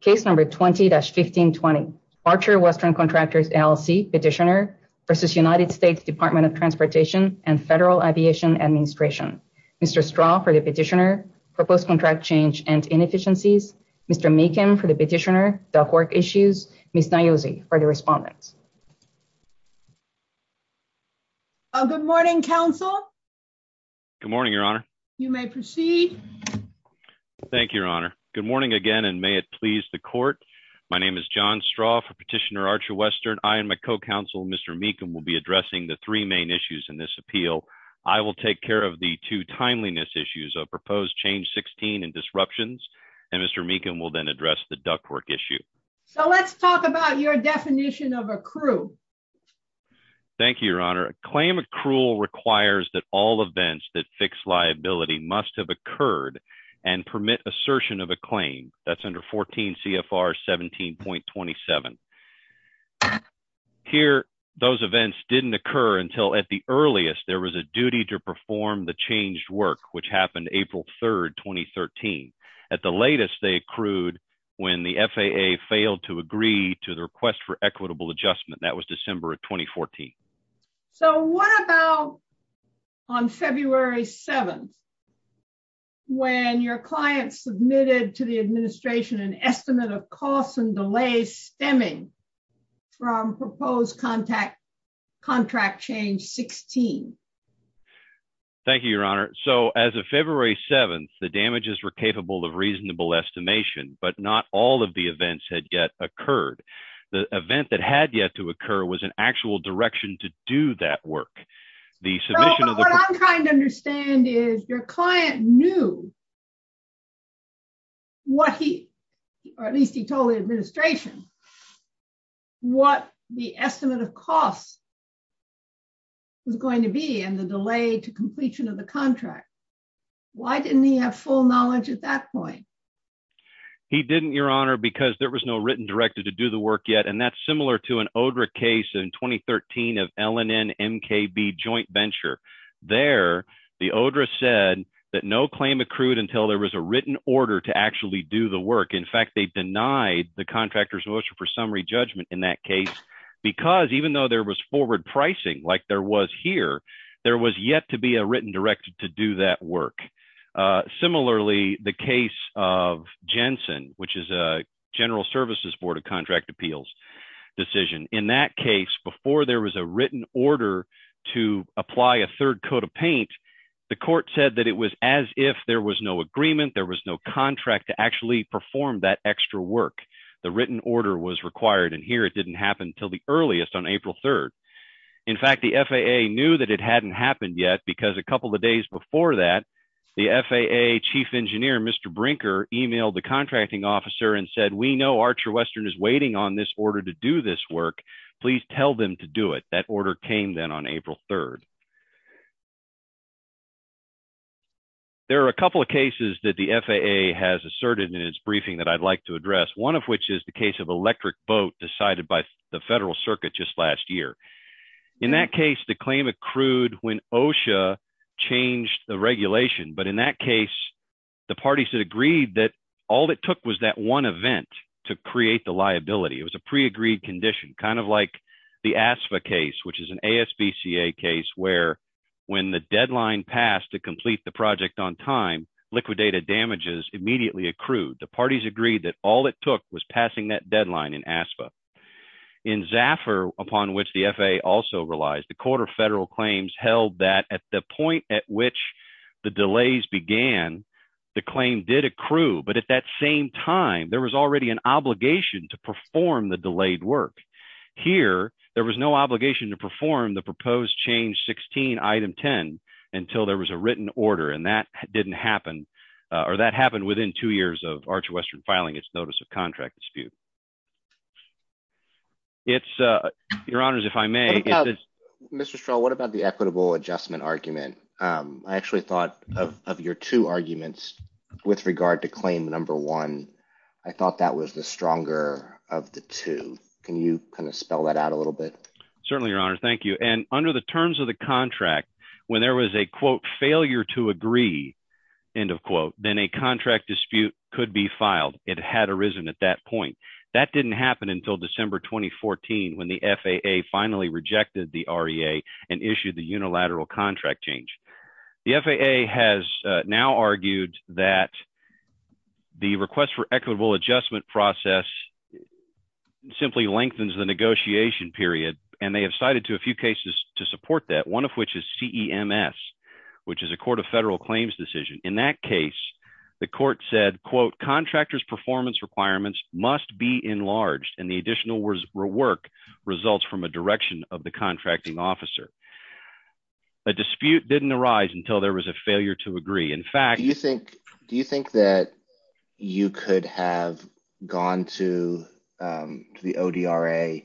Case number 20-1620. Archer Western Contractors LLC petitioner versus United States Department of Transportation and Federal Aviation Administration. Mr. Straw for the petitioner, proposed contract change and inefficiencies. Mr. Macon for the petitioner, the HORC issues. Ms. Niozzi for the respondent. Good morning council. Good morning your honor. You may proceed. Well thank you your honor. Good morning again and may it please the court. My name is John Straw for petitioner Archer Western. I and my co-counsel Mr. Macon will be addressing the three main issues in this appeal. I will take care of the two timeliness issues of proposed change 16 and disruptions and Mr. Macon will then address the HORC issue. So let's talk about your definition of accrual. Thank you your honor. A claim accrual requires that all events that fix liability must have occurred and permit assertion of a claim. That's under 14 CFR 17.27. Here those events didn't occur until at the earliest there was a duty to perform the changed work which happened April 3rd 2013. At the latest they accrued when the FAA failed to agree to the when your client submitted to the administration an estimate of costs and delays stemming from proposed contact contract change 16. Thank you your honor. So as of February 7th the damages were capable of reasonable estimation but not all of the events had yet occurred. The event that had yet to occur was an actual direction to do that work. What I'm trying to understand is your client knew what he or at least he told the administration what the estimate of cost was going to be in the delay to completion of the contract. Why didn't he have full knowledge at that point? He didn't your honor because there was no written to do the work yet and that's similar to an ODRA case in 2013 of LNN MKB joint venture. There the ODRA said that no claim accrued until there was a written order to actually do the work. In fact they denied the contractor's motion for summary judgment in that case because even though there was forward pricing like there was here there was yet to be a written directed to do that work. Similarly the case of Jensen which is a general services board of contract appeals decision. In that case before there was a written order to apply a third coat of paint the court said that it was as if there was no agreement there was no contract to actually perform that extra work. The written order was required and here it didn't happen until the earliest on April 3rd. In fact the FAA knew that it hadn't happened yet because a couple of days before that the FAA chief engineer Mr. Brinker emailed the contracting officer and said we know Archer Western is waiting on this order to do this work please tell them to do it. That order came then on April 3rd. There are a couple of cases that the FAA has asserted in its briefing that I'd like to address. One of which is the case of electric boat decided by the federal circuit just last year. In that case the claim accrued when OSHA changed the regulation but in that case the parties had agreed that all it took was that one event to create the liability. It was a pre-agreed condition kind of like the ASFA case which is an ASBCA case where when the deadline passed to complete the project on time liquidated damages immediately accrued. The parties agreed that all it took was passing that deadline in ASFA. In Zaffer upon which the FAA also relies the court of federal claims held that at the point at which the delays began the claim did accrue but at that same time there was already an obligation to perform the delayed work. Here there was no obligation to perform the proposed change 16 item 10 until there was a written order and that didn't notice of contract dispute. It's uh your honors if I may. Mr. Strahl what about the equitable adjustment argument? I actually thought of your two arguments with regard to claim number one. I thought that was the stronger of the two. Can you kind of spell that out a little bit? Certainly your honor thank you and under the terms of the contract when there was a quote agree end of quote then a contract dispute could be filed. It had arisen at that point. That didn't happen until December 2014 when the FAA finally rejected the REA and issued the unilateral contract change. The FAA has now argued that the request for equitable adjustment process simply lengthens the negotiation period and they have cited to a few cases to support that one of which is CEMS which is a court of federal claims decision. In that case the court said quote contractors performance requirements must be enlarged and the additional work results from a direction of the contracting officer. A dispute didn't arise until there was a failure to agree. In fact do you think do you think that you could have gone to the ODRA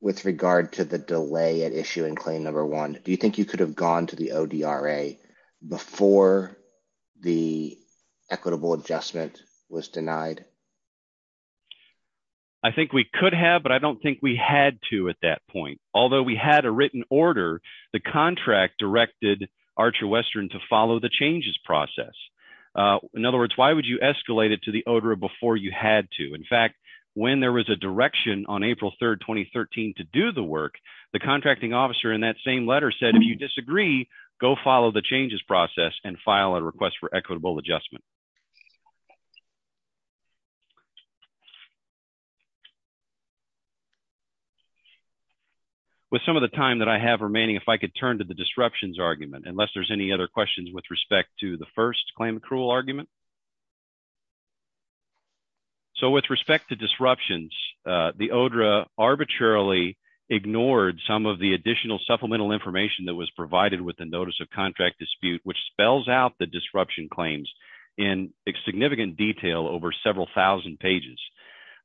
with regard to the delay at issue in claim number one? Do you think you could have gone to the ODRA before the equitable adjustment was denied? I think we could have but I don't think we had to at that point. Although we had a written order the contract directed Archer Western to follow the changes process. In other words why would you escalate it to the ODRA before you had to? In fact when there was a direction on April 3rd 2013 to do the work the contracting officer in that same letter said if you disagree go follow the changes process and file a request for equitable adjustment. With some of the time that I have remaining if I could turn to the disruptions argument unless there's any other questions with respect to the first claim accrual argument. With respect to disruptions the ODRA arbitrarily ignored some of the additional supplemental information that was provided with the notice of contract dispute which spells out the disruption claims in significant detail over several thousand pages.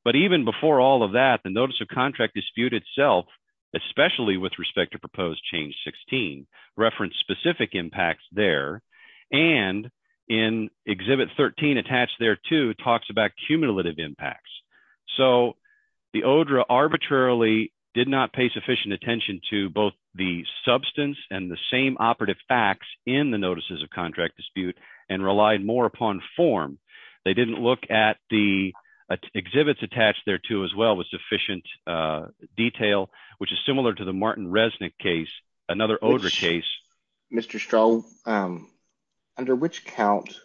But even before all of that the notice of contract dispute itself especially with respect to proposed change 16 referenced specific impacts there. And in exhibit 13 attached there too talks about cumulative impacts. So the ODRA arbitrarily did not pay sufficient attention to both the substance and the same operative facts in the notices of contract dispute and relied more upon form. They didn't look at the exhibits attached there too as well with sufficient detail which is similar to the Martin Resnick case another ODRA case. Mr. Stroh under which count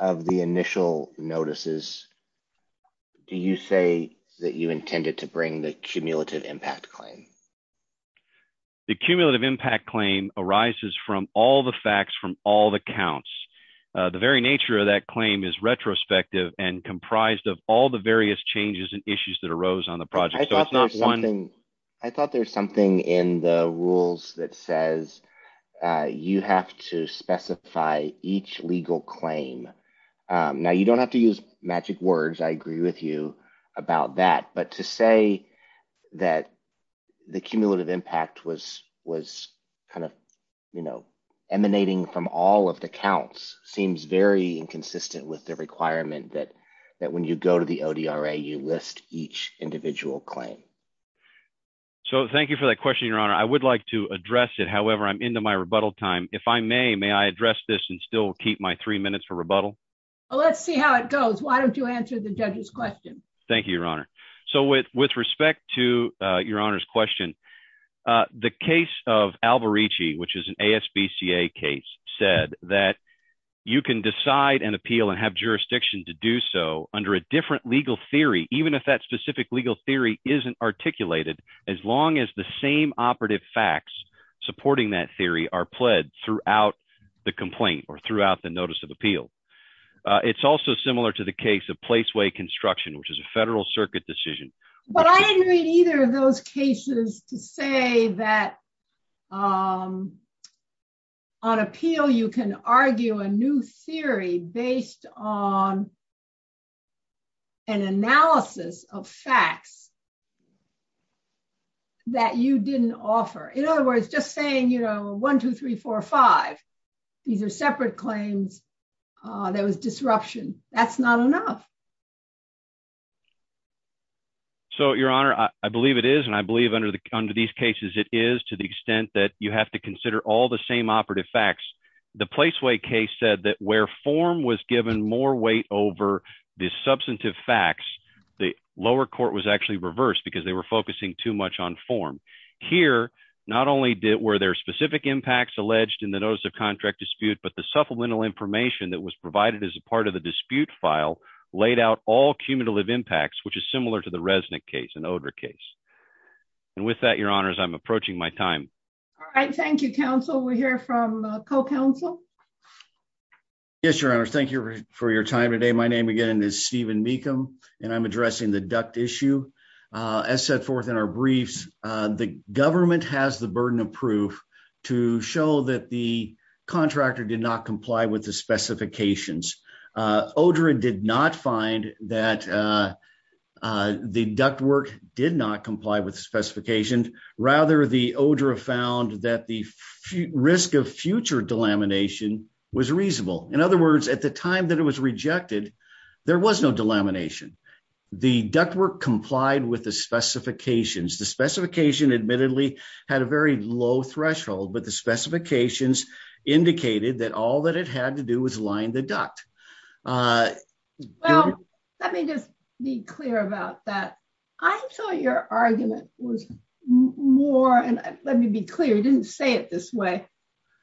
of the initial notices do you say that you intended to bring the cumulative impact claim? The cumulative impact claim arises from all the facts from all the counts. The very nature of that claim is retrospective and comprised of all the various changes and issues that arose on the project. I thought there's something in the rules that says you have to specify each legal claim. Now you don't have to use magic words I agree with you about that but to say that the cumulative impact was was kind of you know emanating from all of the counts seems very inconsistent with the requirement that that when you go to the ODRA you list each individual claim. So thank you for that question your honor. I would like to address it however I'm into my rebuttal time. If I may, may I address this and still keep my three minutes for rebuttal? Well let's see how it goes. Why don't you answer the judge's question? Thank you your honor. So with respect to your honor's question the case of Alborici which is an ASBCA case said that you can decide and appeal and have jurisdiction to do so under a different legal theory even if that specific legal theory isn't articulated as long as the same operative facts supporting that theory are pled throughout the complaint or throughout the notice of appeal. It's also similar to the case of say that on appeal you can argue a new theory based on an analysis of facts that you didn't offer. In other words just saying you know one two three four five these are separate claims there was disruption that's not enough. So your honor I believe it is and I believe under the under these cases it is to the extent that you have to consider all the same operative facts. The Placeway case said that where form was given more weight over the substantive facts the lower court was actually reversed because they were focusing too much on form. Here not only did were there specific impacts alleged in the notice of contract dispute but the supplemental information that was provided as a part of the dispute file laid out all cumulative impacts which is similar to the Resnick case an odor case. And with that your honors I'm approaching my time. All right thank you counsel we hear from co-counsel. Yes your honor thank you for your time today my name again is Stephen Mecham and I'm addressing the duct issue. As set forth in our briefs the government has the burden of proof to show that the contractor did not comply with the specifications. Odra did not find that the ductwork did not comply with the specifications rather the odor found that the risk of future delamination was reasonable. In other words at the time that it was rejected there was no delamination. The ductwork complied with the specifications. The specification admittedly had a very low threshold but the specifications indicated that all that it had to do was line the duct. Well let me just be clear about that. I thought your argument was more and let me be clear you didn't say it this way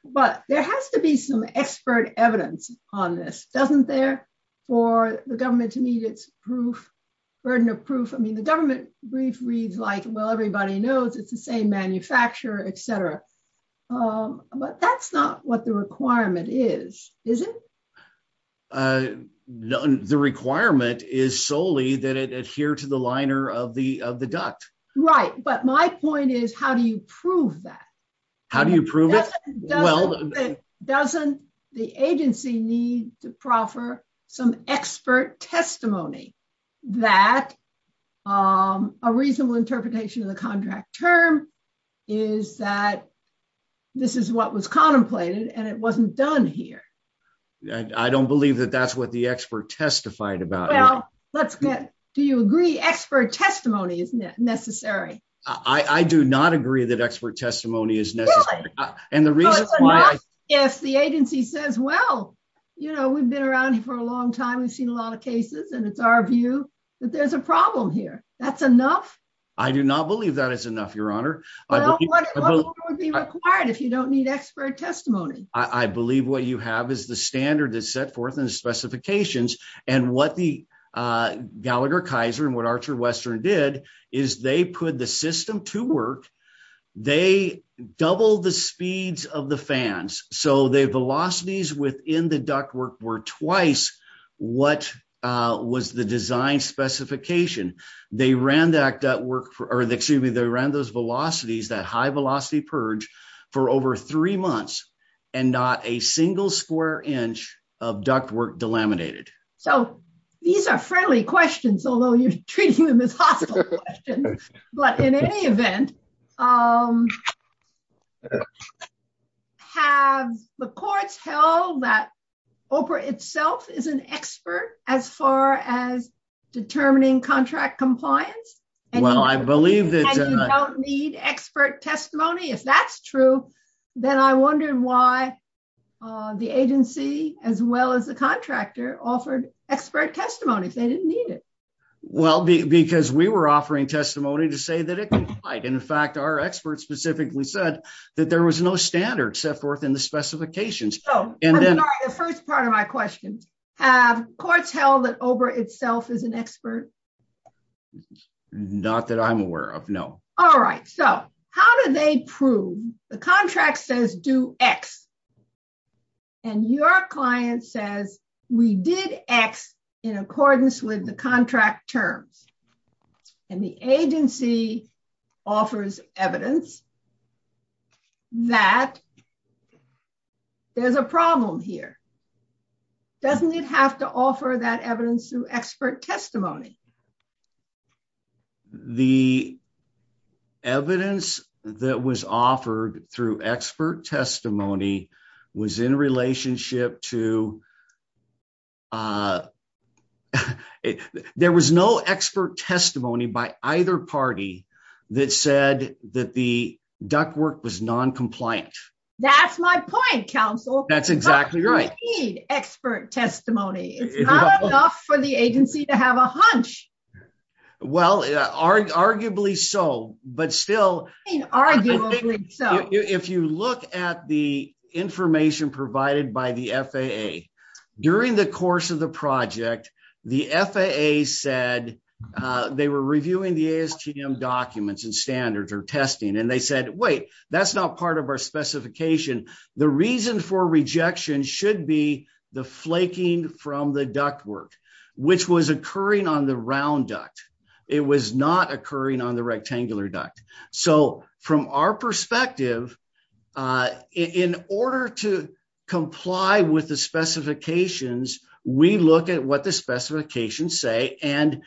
but there has to be some expert evidence on this doesn't there for the government to need its proof burden of proof. I mean the government brief reads like well everybody knows it's the same manufacturer etc but that's not what the requirement is is it? The requirement is solely that it adhere to the liner of the of the duct. Right but my point is how do you prove that? How do you prove it? Well doesn't the agency need to expert testimony that a reasonable interpretation of the contract term is that this is what was contemplated and it wasn't done here. I don't believe that that's what the expert testified about. Well let's get do you agree expert testimony is necessary? I do not agree that expert testimony is necessary. If the agency says well you know we've been around for a long time we've seen a lot of cases and it's our view that there's a problem here that's enough. I do not believe that is enough your honor. What would be required if you don't need expert testimony? I believe what you have is the standard that's set forth in the specifications and what the Gallagher Kaiser and Archer Western did is they put the system to work. They doubled the speeds of the fans so the velocities within the ductwork were twice what was the design specification. They ran that work or excuse me they ran those velocities that high velocity purge for over three months and not a question but in any event have the courts held that OPRA itself is an expert as far as determining contract compliance? Well I believe that you don't need expert testimony if that's true then I wondered why the agency as well as the contractor offered expert testimony they didn't well because we were offering testimony to say that it complied and in fact our experts specifically said that there was no standard set forth in the specifications. So the first part of my question have courts held that OPRA itself is an expert? Not that I'm aware of no. All right so how do they prove the contract says do X and your client says we did X in the contract term and the agency offers evidence that there's a problem here. Doesn't it have to offer that evidence through expert testimony? The evidence that was offered through expert testimony was in relationship to there was no expert testimony by either party that said that the ductwork was non-compliant. That's my point counsel. That's exactly right. Expert testimony for the agency to have a hunch. Well arguably so but still arguably so if you look at the information provided by the FAA during the course of the project the FAA said they were reviewing the ASTM documents and standards or testing and they said wait that's not part of our specification. The reason for rejection should be the flaking from the ductwork which was occurring on the round duct. It was not occurring on the rectangular duct. So from our perspective in order to comply with the specifications we look at what the specifications say and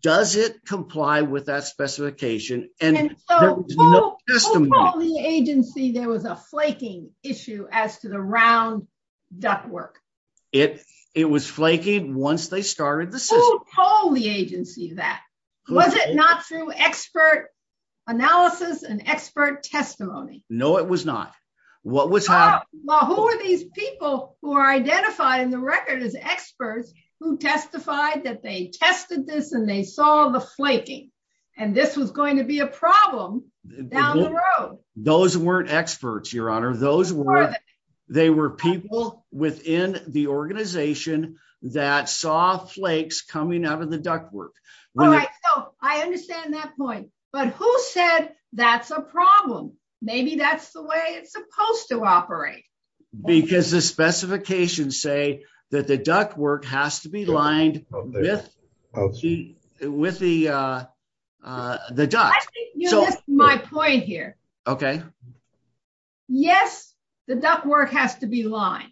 does it comply with that specification. And so who told the agency there was a flaking issue as to the round ductwork? It was flaking once they started the system. Who told the agency that? Was it not through expert analysis and expert testimony? No it was not. Well who are these people who are identifying the record as experts who testified that they tested this and they saw the flaking and this was going to be a problem down the road? Those weren't experts your honor. Those were they were people within the organization that saw flakes coming out of the ductwork. All right so I understand that point but who said that's a problem? Maybe that's the way it's supposed to operate. Because the specifications say that the ductwork has to be lined with okay with the uh uh the duct. I think you missed my point here. Okay. Yes the ductwork has to be lined.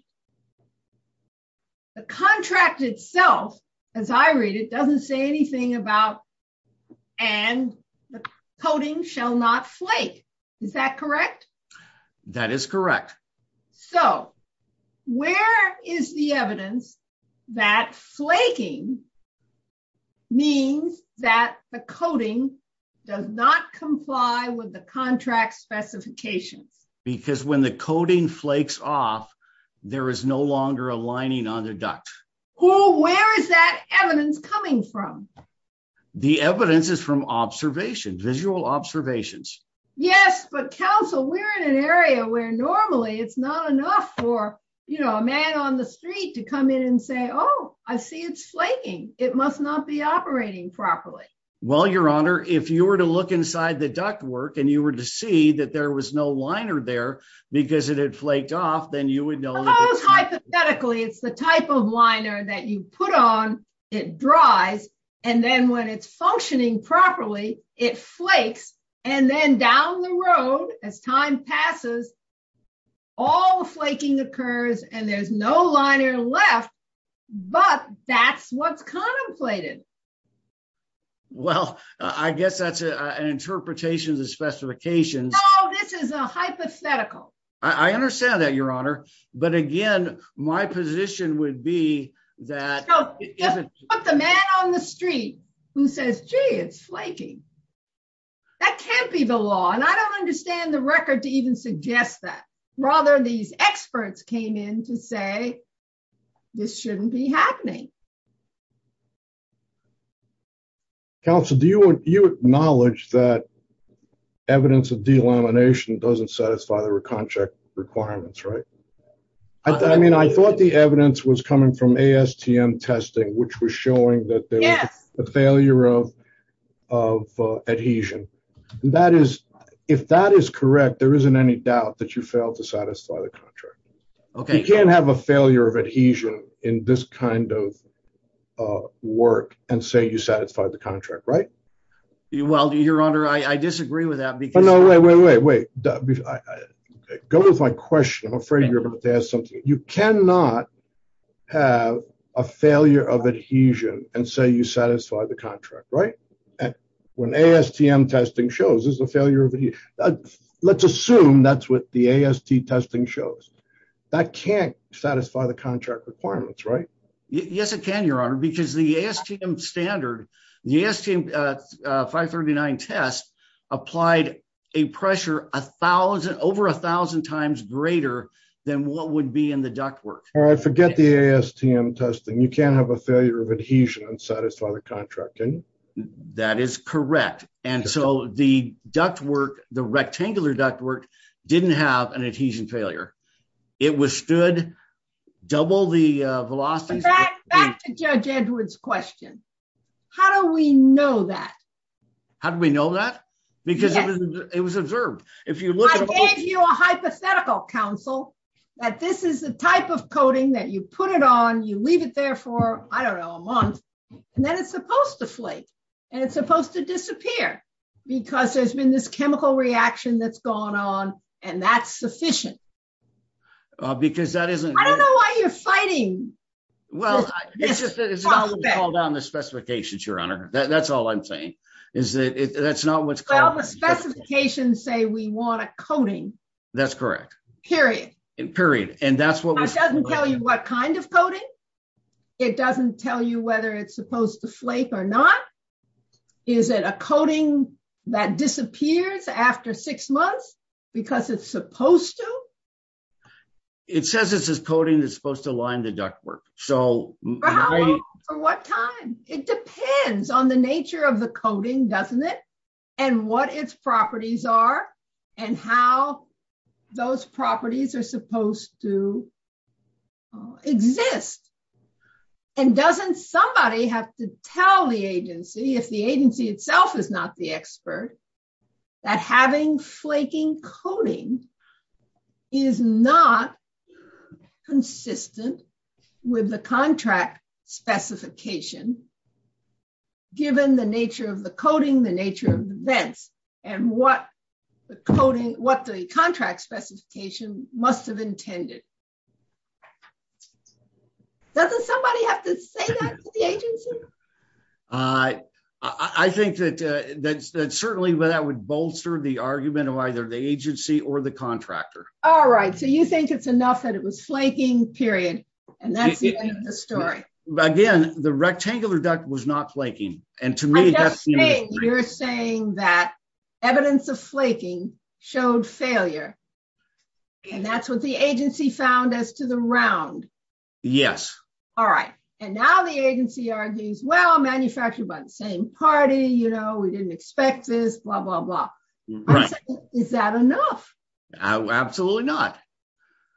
The contract itself as I read it doesn't say anything about and the coating shall not flake. Is that correct? That is correct. So where is the evidence that flaking means that the coating does not comply with the contract specifications? Because when the coating flakes off there is no longer a lining on the duct. Well where is that evidence coming from? The evidence is from observations visual observations. Yes but counsel we're in an area where normally it's not enough for you know a man on the street to come in and say oh I see it's flaking it must not be operating properly. Well your honor if you were to look inside the ductwork and you were to see that there was no liner there because it had flaked off then you would know. Hypothetically it's the type of liner that you put on it dries and then when it's functioning properly it flakes and then down the road as time passes all flaking occurs and there's no liner left but that's what's contemplated. Well I guess that's an interpretation of the specifications. Oh this is a hypothetical. I understand that your honor but again my position would be that. Put the man on the street who says gee it's flaking that can't be the law and I don't understand the record to even suggest that rather these experts came in to say this shouldn't be happening. Counsel do you acknowledge that evidence of delamination doesn't satisfy our contract requirements right? I mean I thought the evidence was coming from ASTM testing which was showing that there's a failure of adhesion. That is if that is correct there isn't any doubt that you failed to satisfy the contract. You can't have a failure of adhesion in this kind of work and say you satisfy the contract right? Well your honor I disagree with that. No wait wait wait wait go with my question I'm afraid you're going to have to ask something. You cannot have a failure of adhesion and say you satisfy the contract right? When ASTM testing shows there's a failure let's assume that's what the AST testing shows that can't satisfy the contract requirements right? Yes it can your honor because the ASTM standard the ASTM 539 test applied a pressure a thousand over a thousand times greater than what would be in the ductwork. All right forget the ASTM testing you can't have a failure of adhesion and satisfy the contract can you? That is correct and so the the rectangular ductwork didn't have an adhesion failure. It withstood double the velocity. Back to Judge Edwards question. How do we know that? How do we know that? Because it was observed. I gave you a hypothetical counsel that this is the type of coating that you put it on you leave it there for I don't know a month and then it's supposed to flake and it's supposed to disappear because there's been this chemical reaction that's gone on and that's sufficient. Because that isn't. I don't know why you're fighting. Well it's just that it's all down the specifications your honor that's all I'm saying is that it that's not what. Well the specifications say we want a coating. That's correct. Period. Period and that's what. It doesn't tell you what kind of coating. It doesn't tell you whether it's supposed to flake or not. Is it a coating that disappears after six months because it's supposed to? It says this is coating that's supposed to align the ductwork so. For how long? For what time? It depends on the nature of the coating doesn't it and what its properties are and how those properties are supposed to exist and doesn't somebody have to tell the agency if the agency itself is not the expert that having flaking coating is not consistent with the contract specification given the nature of the coating the nature of the vents and what the coating what the contract specification must have intended. Doesn't somebody have to say that to the agency? I think that certainly that would bolster the argument of either the agency or the contractor. All right so you think it's enough that it was rectangular duct was not flaking and to me that's. You're saying that evidence of flaking showed failure and that's what the agency found as to the round. Yes. All right and now the agency argues well manufactured by the same party you know we didn't expect this blah blah blah. Is that enough? Absolutely not.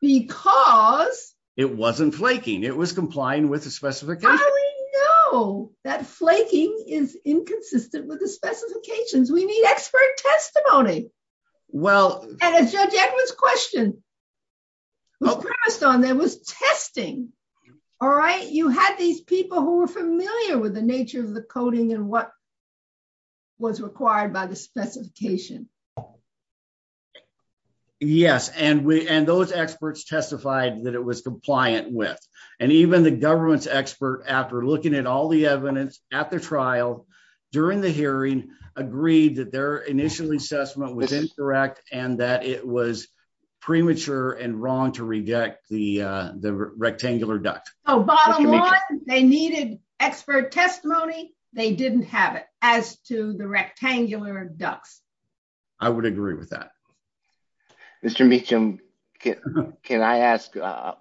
Because it wasn't flaking it was complying with the specifications. How do we know that flaking is inconsistent with the specifications? We need expert testimony. Well and a Judge Edwards question well passed on there was testing. All right you had these people who were familiar with the nature of the coating and what was required by the specification. Yes and we and those experts testified that it was compliant with and even the government's expert after looking at all the evidence at the trial during the hearing agreed that their initial assessment was incorrect and that it was premature and wrong to reject the the rectangular duct. So bottom line they needed expert testimony they didn't have it as to the rectangular ducts. I would agree with that. Mr. Meacham can I ask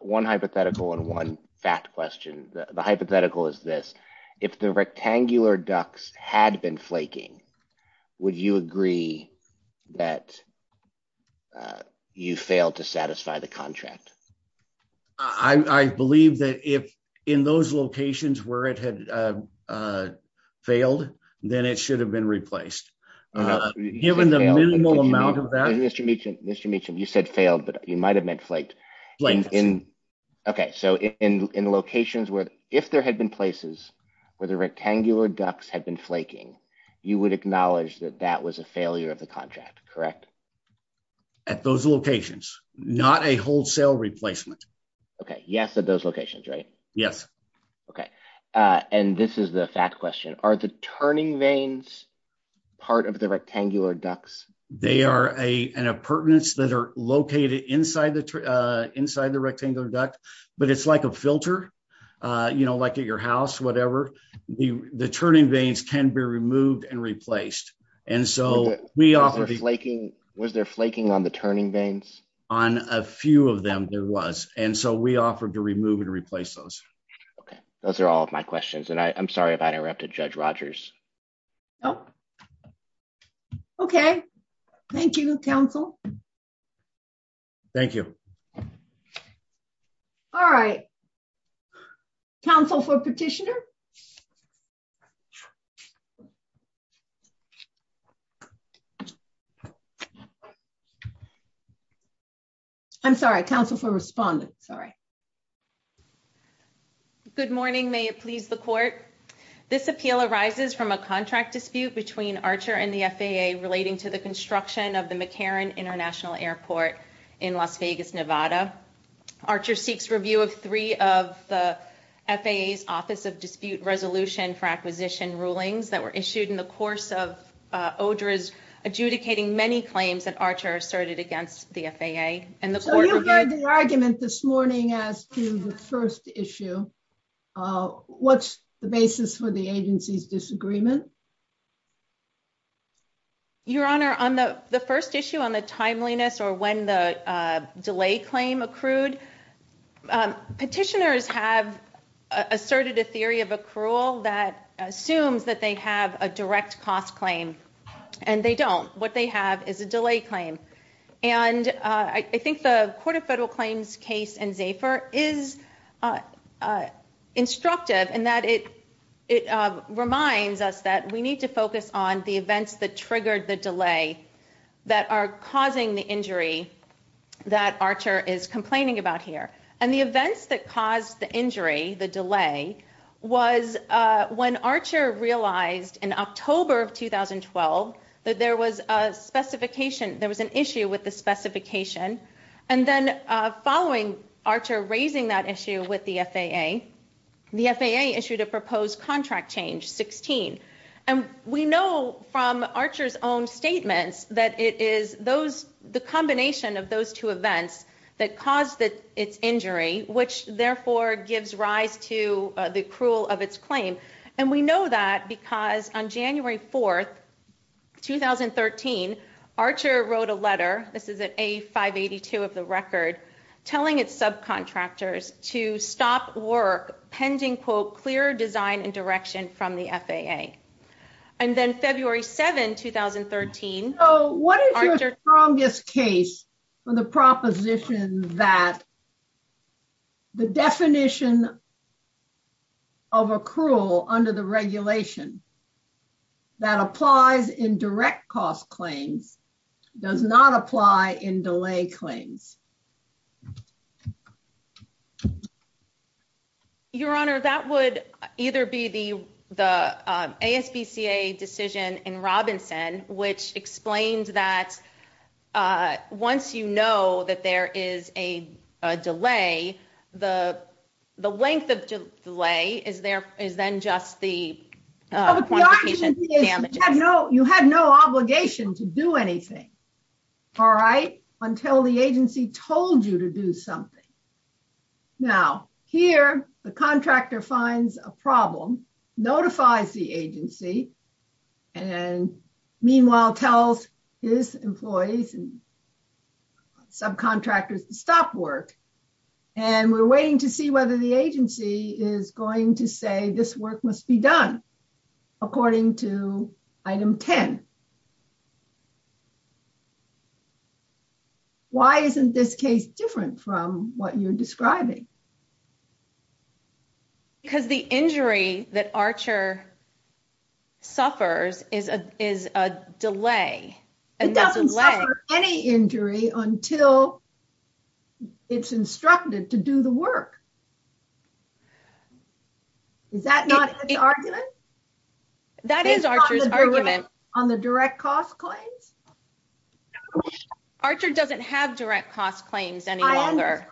one hypothetical and one fact question. The hypothetical is this if the rectangular ducts had been flaking would you agree that you failed to satisfy the contract? I believe that if in those locations where it had uh failed then it should have been replaced given the minimal amount of that. Mr. Meacham Mr. Meacham you said failed but you might have meant flaked. Okay so in in locations where if there had been places where the rectangular ducts had been flaking you would acknowledge that that was a failure of the contract correct? At those locations not a wholesale replacement. Okay yes at those locations right? Yes. Okay uh and this is the fact question are the turning vanes part of the rectangular ducts? They are a an appurtenance that are located inside the uh inside the rectangular duct but it's like a filter uh you know like at your house whatever the turning vanes can be removed and replaced and so we offer flaking was there flaking on turning vanes? On a few of them there was and so we offered to remove and replace those. Okay those are all of my questions and I'm sorry if I interrupted Judge Rogers. Okay thank you counsel. Thank you. All right counsel for petitioner. I'm sorry counsel for respondent. Sorry. Good morning may it please the court. This appeal arises from a contract dispute between Archer and the FAA relating to the construction of the McCarran International Airport in Las Vegas Nevada. Archer seeks review of three of the FAA's office of dispute resolution for acquisition rulings that were issued in the course of uh Odridge adjudicating many claims that Archer asserted against the FAA and the argument this morning as to the first issue what's the basis for the agency's disagreement? Your honor on the the first issue on the timeliness or when the delay claim accrued petitioners have asserted a theory of accrual that assumes that they have a direct cost claim and they don't. What they have is a delay claim and I think the court of federal claims case in Zafer is instructive in that it reminds us that we need to focus on the events that triggered the delay that are causing the injury that Archer is complaining about here and the events that in October of 2012 that there was a specification there was an issue with the specification and then uh following Archer raising that issue with the FAA the FAA issued a proposed contract change 16 and we know from Archer's own statement that it is those the combination of those two events that caused its injury which therefore gives rise to the accrual of its claim and we know that because on January 4th 2013 Archer wrote a letter this is an A582 of the record telling its subcontractors to stop work pending quote clear design and direction from the FAA and then February 7 2013. So what is your strongest case for the proposition that the definition of accrual under the regulation that applies in direct cost claim does not apply in delay claims? Your honor that would either be the the ASPCA decision in Robinson which explains that once you know that there is a delay the the length of delay is there is then just the you had no obligation to do anything all right until the agency told you to do something. Now here the contractor finds a problem notifies the agency and meanwhile tells his employees and subcontractors to stop work and we're waiting to see whether the agency is going to say this work must be done according to item 10. Why isn't this case different from what you're describing? Because the injury that Archer suffers is a is a delay. It doesn't cover any injury until it's instructed to do the work. Is that not the argument? That is Archer's argument. On the direct cost claim? Archer doesn't have direct cost claims any longer.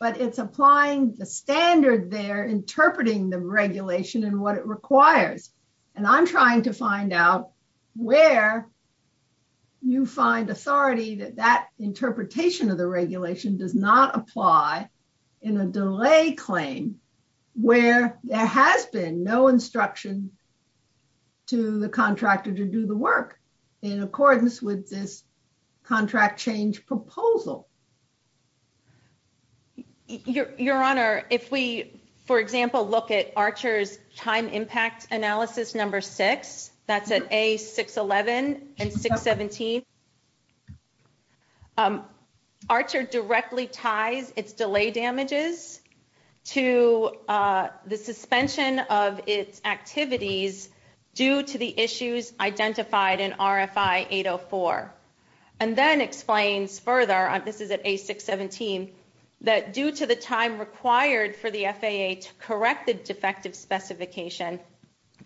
But it's applying the standard they're interpreting the regulation and what it requires and I'm trying to find out where you find authority that that interpretation of the regulation does not apply in a delay claim where there has been no instruction to the contractor to do the work in accordance with this contract change proposal. Your Honor, if we for example look at Archer's time impact analysis number six, that's at A611 and 617, Archer directly ties its delay damages to the suspension of its activities due to the issues identified in RFI 804. And then explains further, this is at A617, that due to the time required for the FAA to correct the defective specification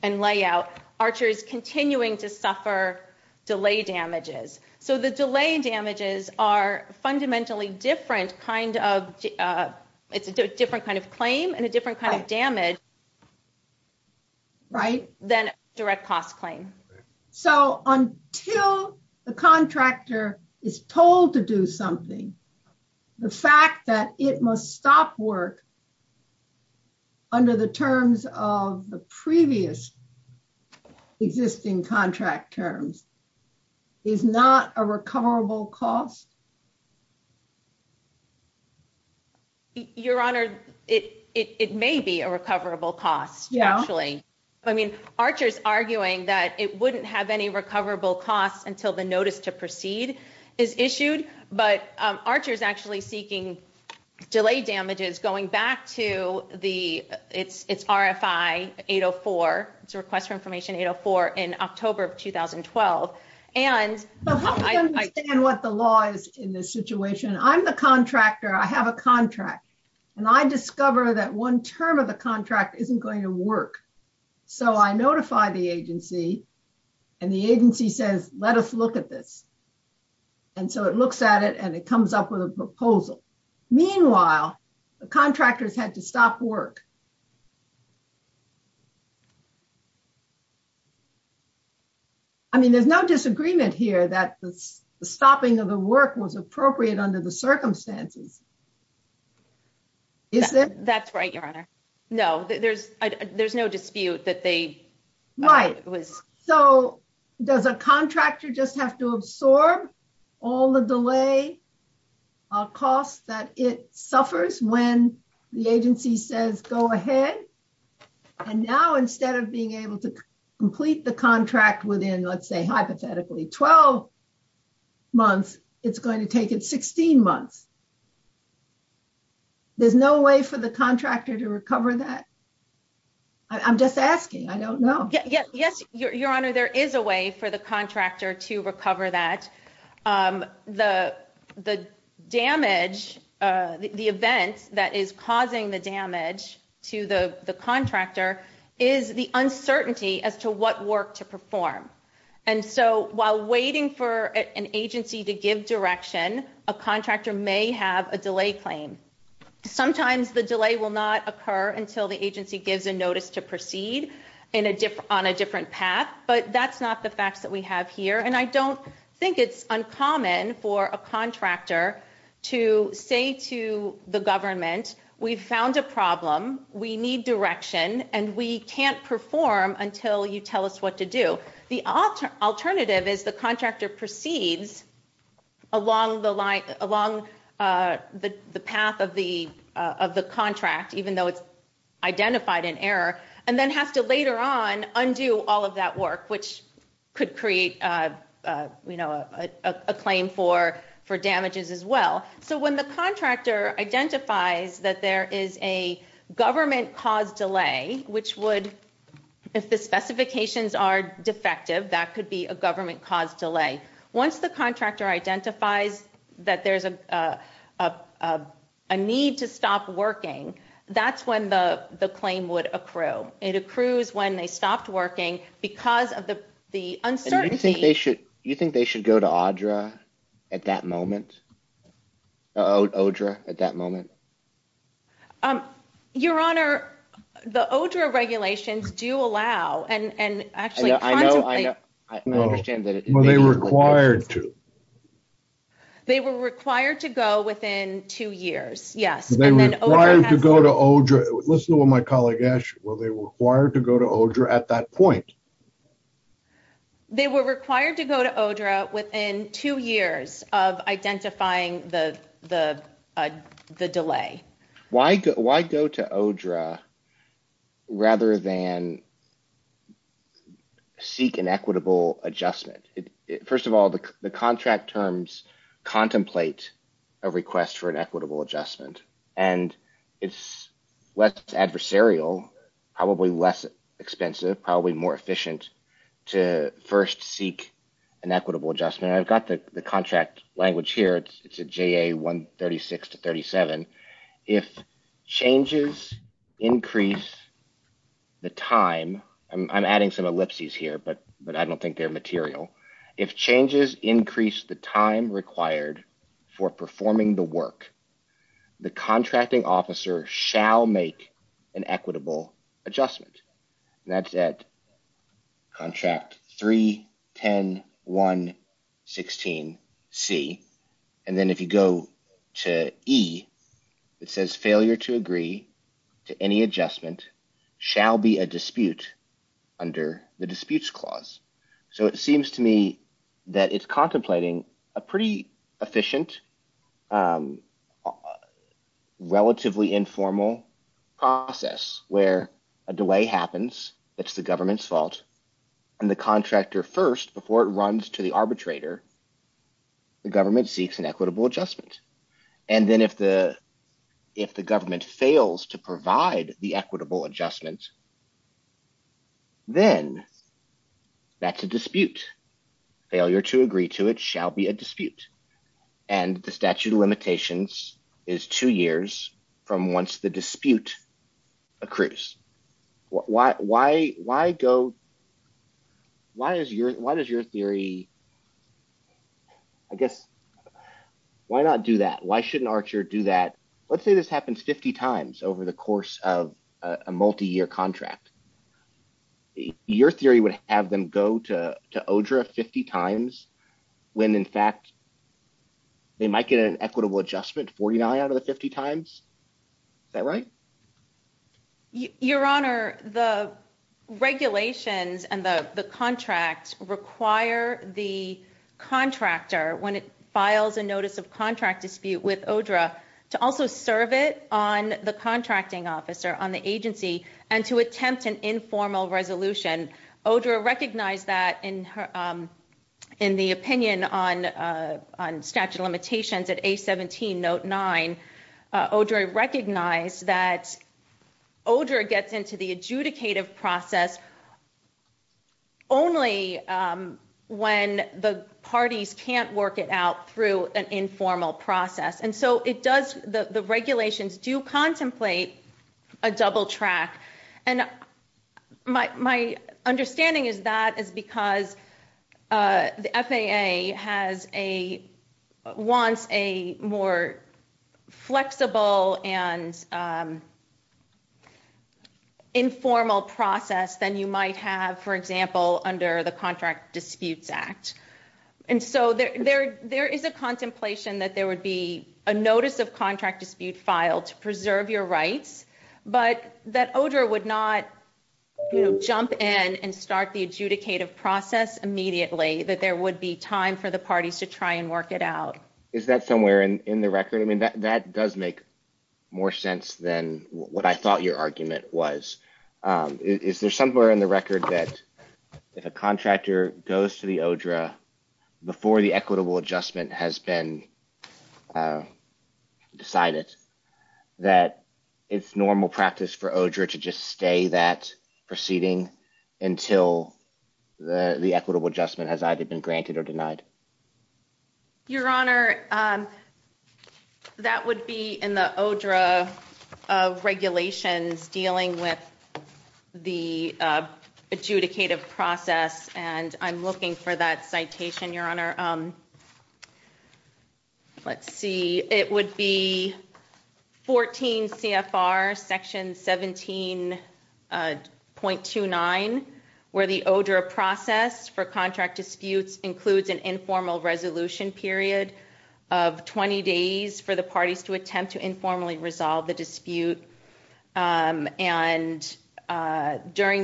and layout, Archer is continuing to suffer delay damages. So the delay damages are fundamentally different kind of claim and a different kind of damage than direct cost claim. So until the contractor is told to do something, the fact that it must stop work under the terms of the previous existing contract terms is not a recoverable cost? Your Honor, it may be a recoverable cost, actually. I mean, Archer's arguing that it wouldn't have any recoverable costs until the notice to proceed is issued, but Archer's actually seeking delay damages going back to its RFI 804, its request for information 804, in October of 2012. And I think what the law is in this situation, I'm the contractor. I have a contract and I discover that one term of the contract isn't going to work. So I notify the agency and the agency says, let us look at this. And so it looks at it and it comes up with a proposal. Meanwhile, the contractors had to stop work. I mean, there's no disagreement here that the stopping of the work was appropriate under the circumstances. Is there? That's right, Your Honor. No, there's no dispute that they... Right. So does a contractor just have to absorb all the delay costs that it suffers when the agency says, go ahead? And now, instead of being able to complete the contract within, let's say, hypothetically 12 months, it's going to take it 16 months. There's no way for the contractor to recover that? I'm just asking. I don't know. Yes, Your Honor, there is a way for the contractor to recover that. The damage, the event that is causing the damage to the contractor is the uncertainty as to what work to perform. And so while waiting for an agency to give direction, a contractor may have a delay claim. Sometimes the delay will not occur until the agency gives a notice to proceed on a different path, but that's not the fact that we have here. And I don't think it's uncommon for a contractor to say to the government, we've found a problem, we need direction, and we can't perform until you tell us what to do. The alternative is the contractor proceeds along the path of the contract, even though it's identified an error, and then have to later on for damages as well. So when the contractor identifies that there is a government-caused delay, which would, if the specifications are defective, that could be a government-caused delay. Once the contractor identifies that there's a need to stop working, that's when the claim would accrue. It accrues when they stopped working because of the uncertainty. You think they should go to ODRRA at that moment? Your Honor, the ODRRA regulations do allow, and actually- Were they required to? They were required to go within two years, yes. Were they required to go to ODRRA? Listen to what my colleague asked, were they required to go to ODRRA at that point? They were required to go to ODRRA within two years of identifying the delay. Why go to ODRRA rather than seek an equitable adjustment? First of all, the contract terms contemplate a request for an equitable adjustment, and it's less adversarial, probably less efficient to first seek an equitable adjustment. I've got the contract language here, it's a JA 136-37. If changes increase the time, I'm adding some ellipses here, but I don't think they're material. If changes increase the time required for performing the work, the contracting officer shall make an equitable adjustment. That's at contract 3-10-1-16-C. Then if you go to E, it says failure to agree to any adjustment shall be a dispute under the disputes clause. It seems to me that it's contemplating a pretty efficient, relatively informal process where a delay happens, it's the government's fault, and the contractor first, before it runs to the arbitrator, the government seeks an equitable adjustment. Then if the government fails to provide the equitable adjustment, then that's a dispute. Failure to agree to it shall be a dispute, and the statute of limitations is two years from once the dispute accrues. Why does your theory, I guess, why not do that? Why shouldn't ARCHER do that? Let's say this happens 50 times over the course of a multi-year contract. Your theory would have them go to ODRRA 50 times when, in fact, they might get an equitable adjustment 49 out of the 50 times. Is that right? Your Honor, the regulations and the contracts require the contractor, when it files a notice of contract dispute with ODRRA, to also serve it on the contracting officer, on the agency, and to attempt an informal resolution. ODRRA recognized that in the opinion on statute of limitations at A17 note 9, ODRRA recognized that ODRRA gets into the adjudicative process only when the parties can't work it out through an informal process. The regulations do contemplate a double track. My understanding is that is because the FAA wants a more flexible and for example, under the Contract Disputes Act. There is a contemplation that there would be a notice of contract dispute filed to preserve your rights, but that ODRRA would not jump in and start the adjudicative process immediately, that there would be time for the parties to try and work it out. Is that somewhere in the record? That does make more sense than what I thought your argument was. Is there somewhere in the record that if a contractor goes to the ODRRA before the equitable adjustment has been decided, that it's normal practice for ODRRA to just stay that proceeding until the equitable adjustment has either been granted or denied? Your Honor, that would be in the ODRRA regulations dealing with the adjudicative process. I'm looking for that citation, Your Honor. Let's see. It would be 14 CFR section 17.29, where the ODRRA process for contract disputes includes an informal resolution period of 20 days for the parties to attempt to informally resolve the dispute. During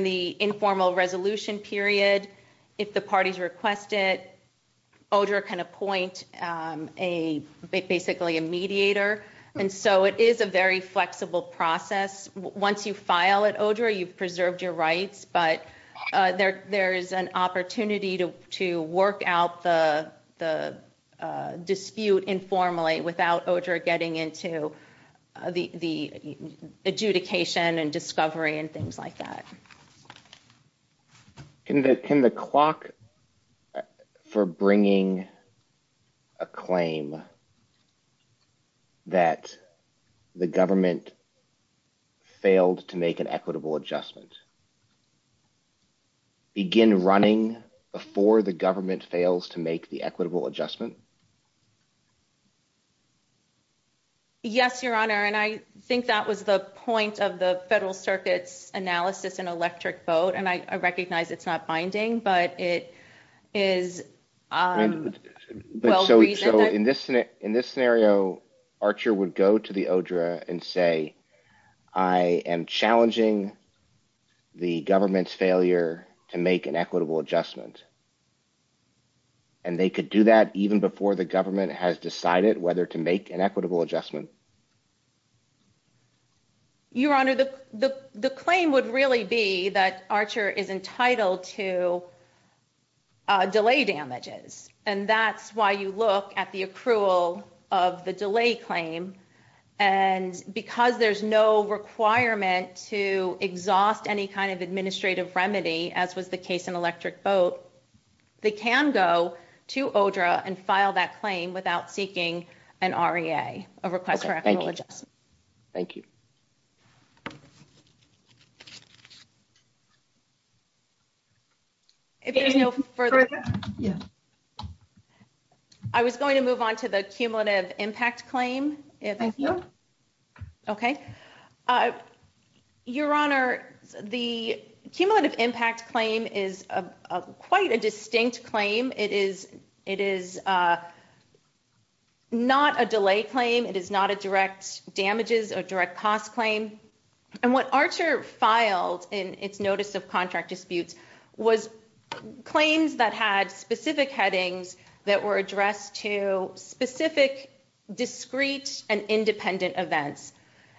the informal resolution period, if the parties request it, ODRRA can appoint basically a mediator. It is a very flexible process. Once you file at ODRRA, you've preserved your rights, but there is an opportunity to work out the dispute informally without ODRRA getting into the adjudication and discovery and things like that. In the clock for bringing a claim that the government failed to make an equitable adjustment, begin running before the government fails to make the equitable adjustment? Yes, Your Honor. I think that was the point of the Federal Circuit's analysis in Electric Boat. I recognize it's not binding, but it is well-reasoned. In this scenario, Archer would go to the ODRRA and say, I am challenging the government's failure to make an equitable adjustment. They could do that even before the government has decided whether to make an equitable adjustment. Your Honor, the claim would really be that Archer is entitled to delay damages. That's why you look at the accrual of the delay claim. And because there's no requirement to exhaust any kind of administrative remedy, as was the case in Electric Boat, they can go to ODRRA and file that claim without seeking an REA, a request for equitable adjustment. Thank you. I was going to move on to the cumulative impact claim. Okay. Your Honor, the cumulative impact claim is quite a distinct claim. It is a not a delay claim. It is not a direct damages or direct cost claim. And what Archer filed in its notice of contract disputes was claims that had specific headings that were addressed to specific discrete and independent events.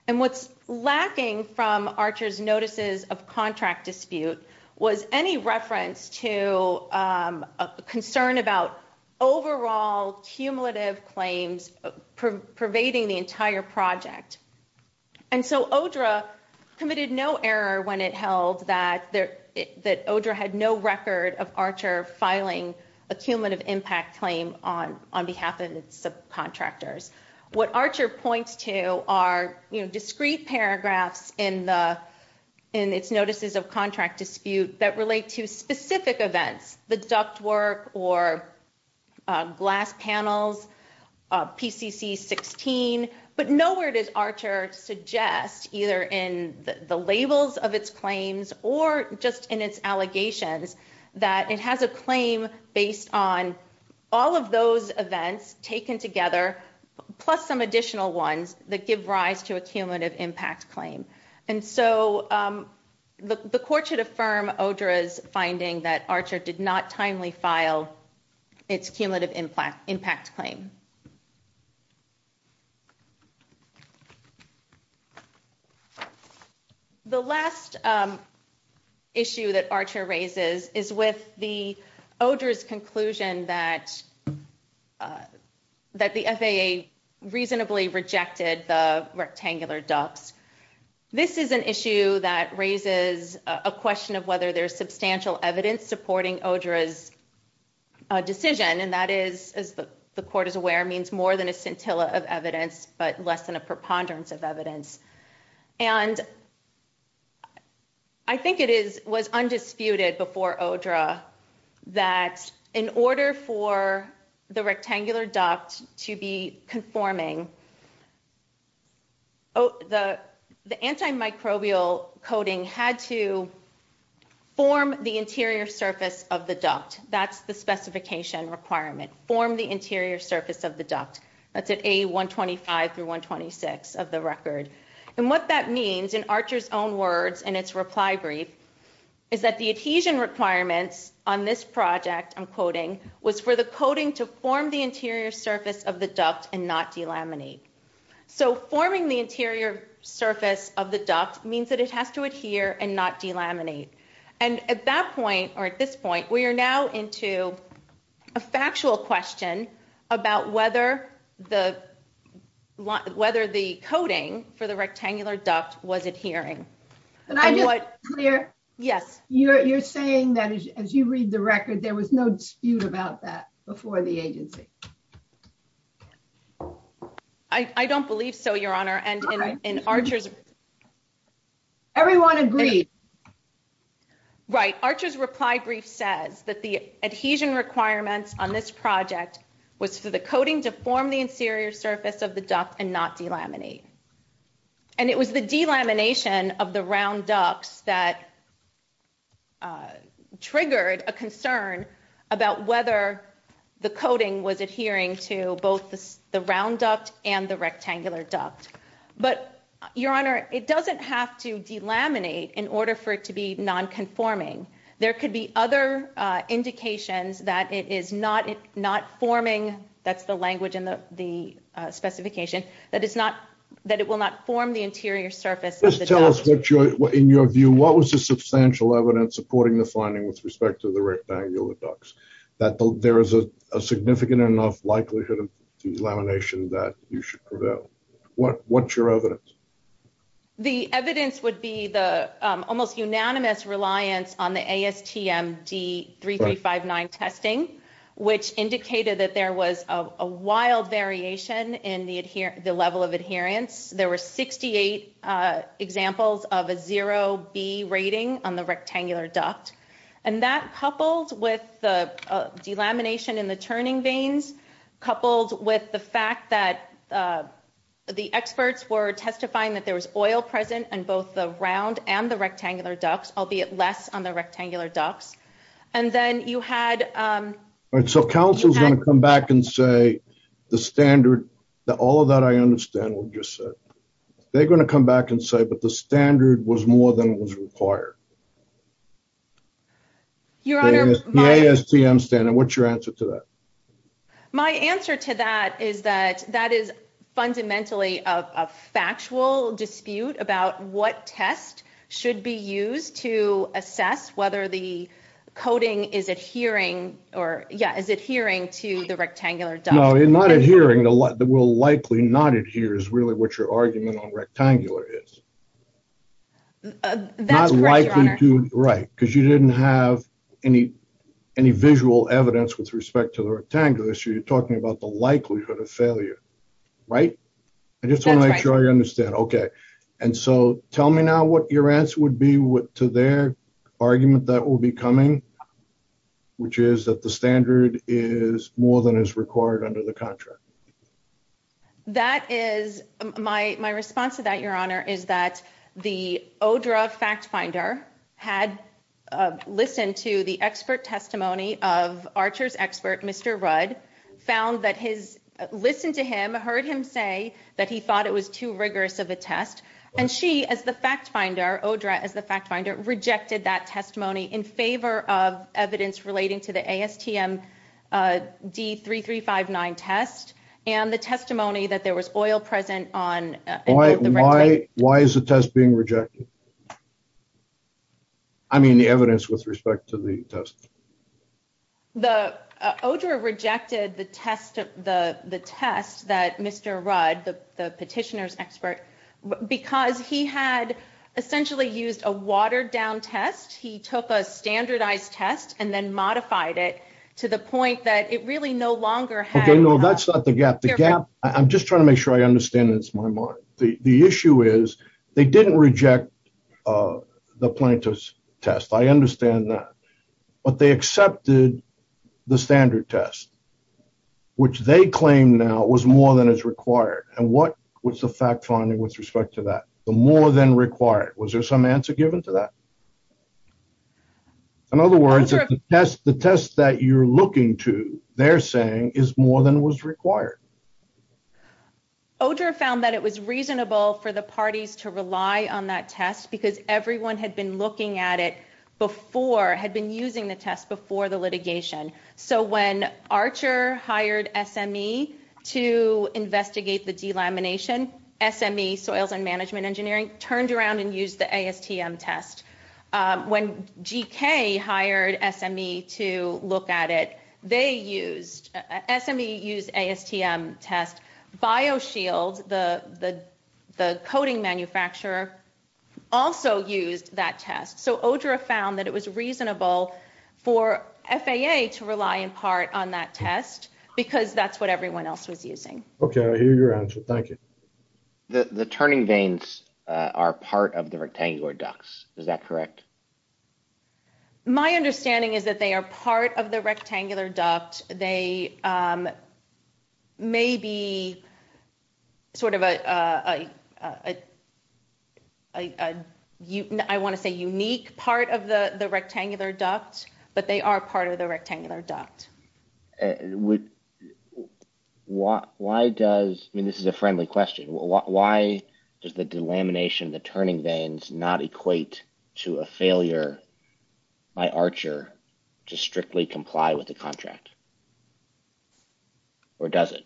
And what's lacking from ODRRA is concern about overall cumulative claims pervading the entire project. And so ODRRA committed no error when it held that ODRRA had no record of Archer filing a cumulative impact claim on behalf of the contractors. What Archer points to are discrete paragraphs in the in its notices of contract dispute that relate to specific events, the ductwork or glass panels, PCC 16. But nowhere does Archer suggest either in the labels of its claims or just in its allegations that it has a claim based on all of those events taken together plus some additional ones that give rise to a cumulative impact claim. And so the court should affirm ODRRA's finding that Archer did not timely file its cumulative impact claim. The last issue that Archer raises is with the ODRRA's conclusion that the FAA reasonably rejected the rectangular ducts. This is an issue that raises a question of whether there's substantial evidence supporting ODRRA's decision. And that is, as the court is aware, means more than a scintilla of evidence but less than a preponderance of the rectangular duct to be conforming. The antimicrobial coating had to form the interior surface of the duct. That's the specification requirement. Form the interior surface of the duct. That's at A125 through 126 of the record. And what that means in Archer's own words in its reply brief is that the adhesion requirements on this project, I'm quoting, was for the coating to form the interior surface of the duct and not delaminate. So forming the interior surface of the duct means that it has to adhere and not delaminate. And at that point, or at this point, we are now into a factual question about whether the coating for the rectangular duct was adhering. You're saying that as you read the record, there was no dispute about that before the agency? I don't believe so, Your Honor. Everyone agrees. Right. Archer's reply brief says that the adhesion requirements on this project was for the coating to form the interior surface of the duct and not delaminate. And it was the delamination of the round ducts that triggered a concern about whether the coating was adhering to both the round duct and the rectangular duct. But, Your Honor, it doesn't have to delaminate in order for it to be nonconforming. There could be other indications that it is not forming, that's the language in the specification, that it will not form the interior surface of the duct. Just tell us in your view, what was the substantial evidence, according to the finding with respect to the rectangular ducts, that there is a significant enough likelihood of delamination that you should prevail? What's your evidence? The evidence would be the almost unanimous reliance on the ASTM D3359 testing, which indicated that there was a wild variation in the level of adherence. There were 68 examples of a zero B rating on the rectangular duct. And that coupled with the delamination in the turning vanes, coupled with the fact that the experts were testifying that there was oil present in both the round and the rectangular ducts, albeit less on the rectangular ducts. And then you had... So counsel's going to come back and say the standard, all of that I understand what you said. They're going to come back and say, but the standard was more than what was required. The ASTM standard, what's your answer to that? My answer to that is that that is fundamentally a factual dispute about what test should be used to assess whether the coating is adhering or yeah, is adhering to the rectangular duct. No, not adhering, will likely not adhere is really what your argument on rectangular is. That's right. Right. Because you didn't have any, any visual evidence with respect to the rectangular issue. You're talking about the likelihood of failure, right? I just want to make sure I understand. Okay. And so tell me now what your answer would be to their argument that will be coming, which is that the standard is more than is required under the contract. That is my, my response to that, your honor, is that the ODRA fact finder had listened to the expert testimony of Archer's expert, Mr. Rudd, found that his, listened to him, heard him say that he thought it was too rigorous of a test. And she, as the fact finder, ODRA as the fact finder rejected that testimony in favor of evidence relating to the ASTM D3359 test and the testimony that there was oil present on. Why is the test being rejected? I mean, the evidence with respect to the test. The ODRA rejected the test, the test that Mr. Rudd, the petitioner's expert, because he had essentially used a watered down test. He took a standardized test and then modified it to the point that it really no longer had... Okay. No, that's not the gap. The gap, I'm just trying to make sure I understand this. The issue is they didn't reject the plaintiff's test. I understand that, but they accepted the standard test, which they claim now was more than is required. And what was the fact finding with respect to that? The more than required, was there some answer given to that? In other words, the test that you're looking to, they're saying is more than was required. ODRA found that it was reasonable for the parties to rely on that test because everyone had been looking at it before, had been using the test before the litigation. So when Archer hired SME to investigate the delamination, SME, Soils and Management Engineering, turned around and used the ASTM test. When GK hired SME to look at it, they used... SME used ASTM test. BioShield, the coating manufacturer, also used that test. So ODRA found that it was reasonable for FAA to rely in part on that test because that's what everyone else was using. Okay. I hear your answer. Thank you. The turning vanes are part of the rectangular ducts. Is that correct? My understanding is that they are part of the rectangular duct. They may be sort of a... I want to say unique part of the rectangular duct, but they are part of the rectangular duct. Why does... I mean, this is a friendly question. Why does the delamination, the turning vanes, not equate to a failure by Archer to strictly comply with the contract? Or does it?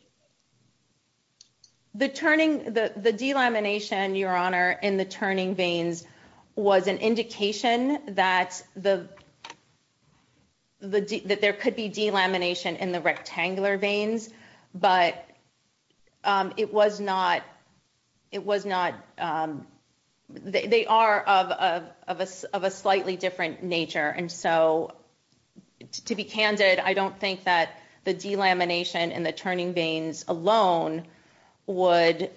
The turning... The delamination, Your Honor, in the turning vanes was an indication that there could be delamination in the rectangular vanes, but it was not... It was not... They are of a slightly different nature. And so to be candid, I don't think that the delamination and the turning vanes alone would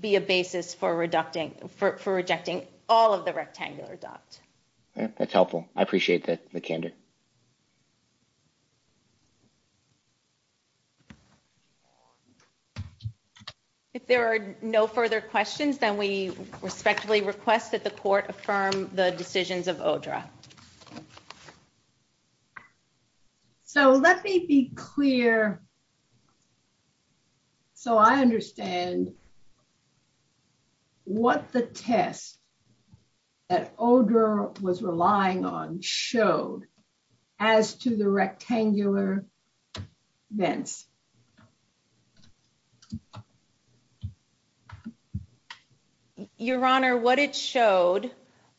be a basis for reducting... For rejecting all of the rectangular ducts. That's helpful. I appreciate the candid. If there are no further questions, then we respectfully request that the court affirm the decisions of ODRA. So let me be clear here. So I understand what the test that ODRA was relying on showed as to the rectangular vents. Your Honor, what it showed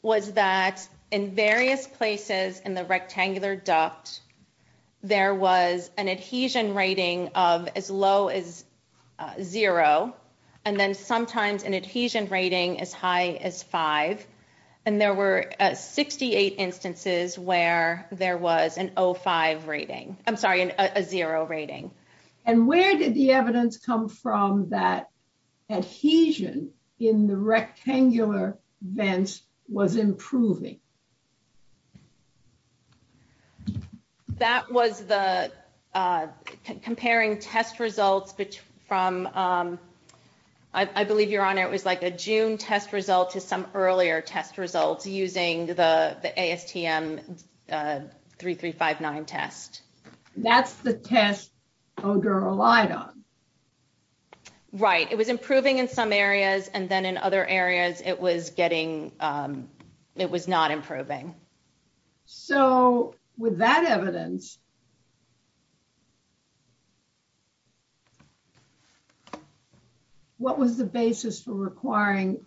was that in various places in the rectangular duct, there was an adhesion rating of as low as zero. And then sometimes an adhesion rating as high as five. And there were 68 instances where there was an O5 rating. I'm sorry, a zero rating. And where did the evidence come from that adhesion in the rectangular vents was improving? That was the... Comparing test results from... I believe, Your Honor, it was like a June test result to some earlier test results using the ASTM 3359 test. That's the test ODRA relied on. Right. It was improving in some areas. And then in other areas, it was getting... So with that evidence, what was the basis for requiring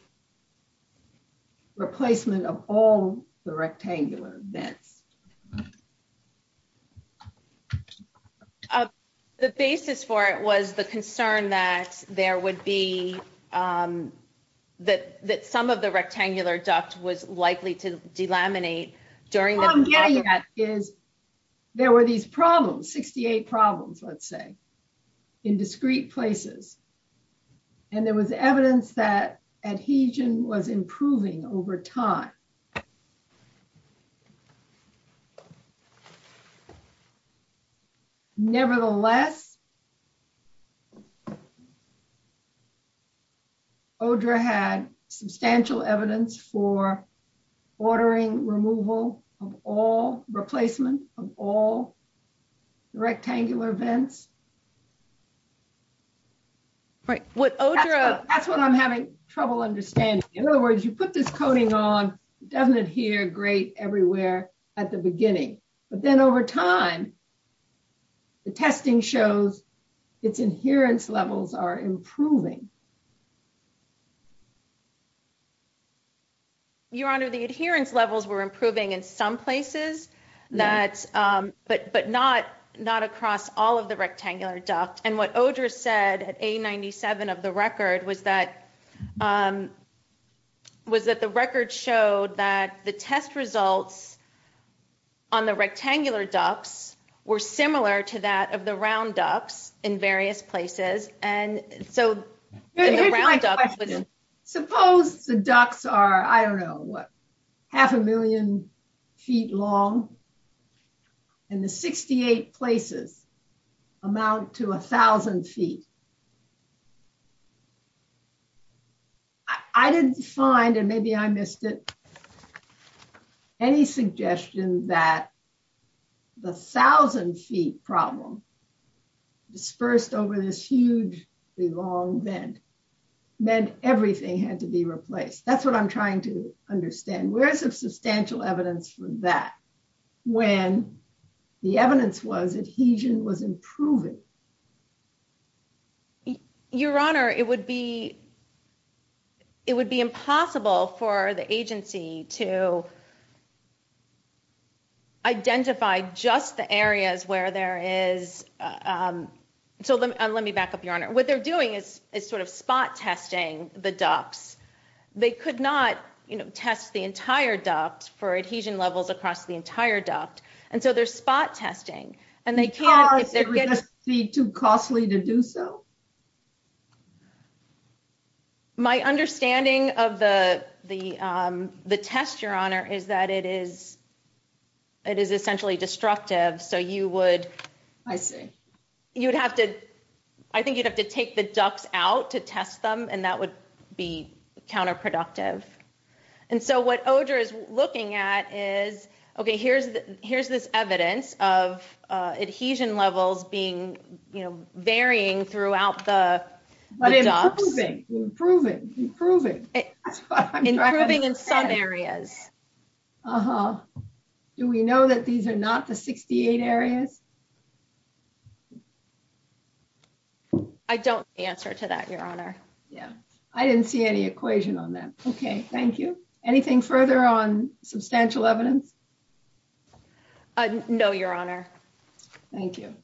replacement of all the rectangular vents? The basis for it was the concern that there would be... That some of the rectangular duct was likely to delaminate during the... What I'm getting at is there were these problems, 68 problems, let's say, in discrete places. And there was evidence that adhesion was improving over time. Nevertheless, ODRA had substantial evidence for ordering removal of all... Replacement of all coating on doesn't adhere great everywhere at the beginning. But then over time, the testing shows its adherence levels are improving. Your Honor, the adherence levels were improving in some places, but not across all of the rectangular ducts. And what ODRA said at A97 of the record was that the record showed that the test results on the rectangular ducts were similar to that of the round ducts in various places. And so... Here's my question. Suppose the ducts are, I don't know, what, half a million feet long and the 68 places amount to a thousand feet. I didn't find, and maybe I missed it, any suggestion that the thousand-feet problem dispersed over this hugely long vent meant everything had to be replaced. That's what I'm trying to understand. Where's the substantial evidence for that? When the evidence was adhesion was improving. Your Honor, it would be impossible for the agency to identify just the areas where there is... So let me back up, Your Honor. What they're doing is sort of spot testing the ducts. They could not test the entire duct for adhesion levels across the entire duct. And so there's spot testing. Because it would just be too costly to do so? My understanding of the test, Your Honor, is that it is essentially destructive. So you would... I see. I think you'd have to take the ducts out to test them, and that would be counterproductive. And so what OGER is looking at is, okay, here's this evidence of adhesion levels being, you know, varying throughout the duct. Improving, improving, improving. Improving in some areas. Do we know that these are not the 68 areas? I don't see an answer to that, Your Honor. Yeah. I didn't see any equation on that. Okay. Thank you. Anything further on substantial evidence? No, Your Honor. Thank you.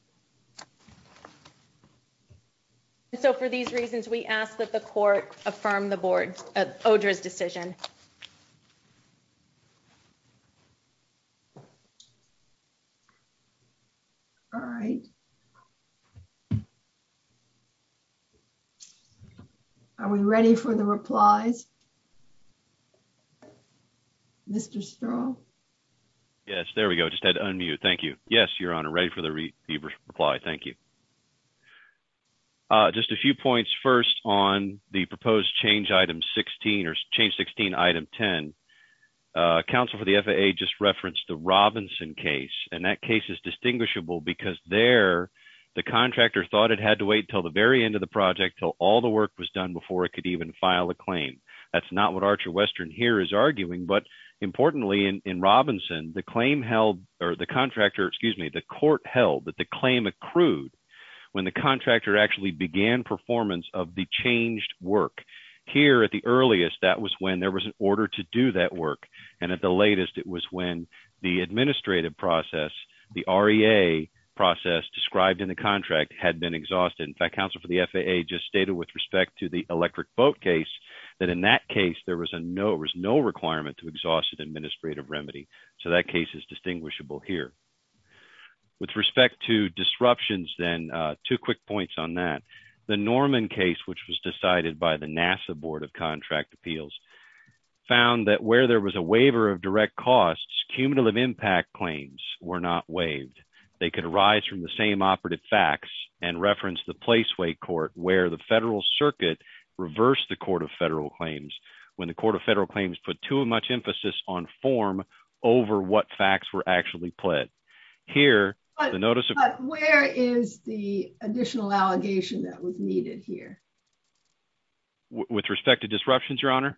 So for these reasons, we ask that the court affirm the board's OGER's decision. All right. Are we ready for the reply? Mr. Stirl? Yes. There we go. I just had to unmute. Thank you. Yes, Your Honor. Ready for the reply. Thank you. Just a few points first on the proposed change item 16 or change 16 item 10. Counsel for the FAA just referenced the Robinson case, and that case is distinguishable because there, the contractor thought it had to wait till the very end of the project till all the work was done before it could even file a claim. That's not what Archer Western here is arguing, but importantly, in Robinson, the claim held, or the contractor, excuse me, the court held that the claim accrued when the contractor actually began performance of the changed work. Here at the earliest, that was when there was an order to do that work, and at the latest, it was when the administrative process, the REA process described in the contract had been exhausted. In fact, Counsel for the FAA just stated with respect to the electric boat case that in that case, there was no requirement to exhaust an administrative remedy. So that case is distinguishable here. With respect to disruptions then, two quick points on that. The Norman case, which was decided by the NASA Board of Contract Appeals, found that where there was a waiver of direct costs, cumulative impact claims were not waived. They could arise from the same operative facts and reference the Placeway Court where the federal circuit reversed the Court of Federal Claims when the Court of Federal Claims put too much emphasis on form over what facts were actually pled. Here, the notice of... But where is the additional allegation that was needed here? With respect to disruptions, Your Honor?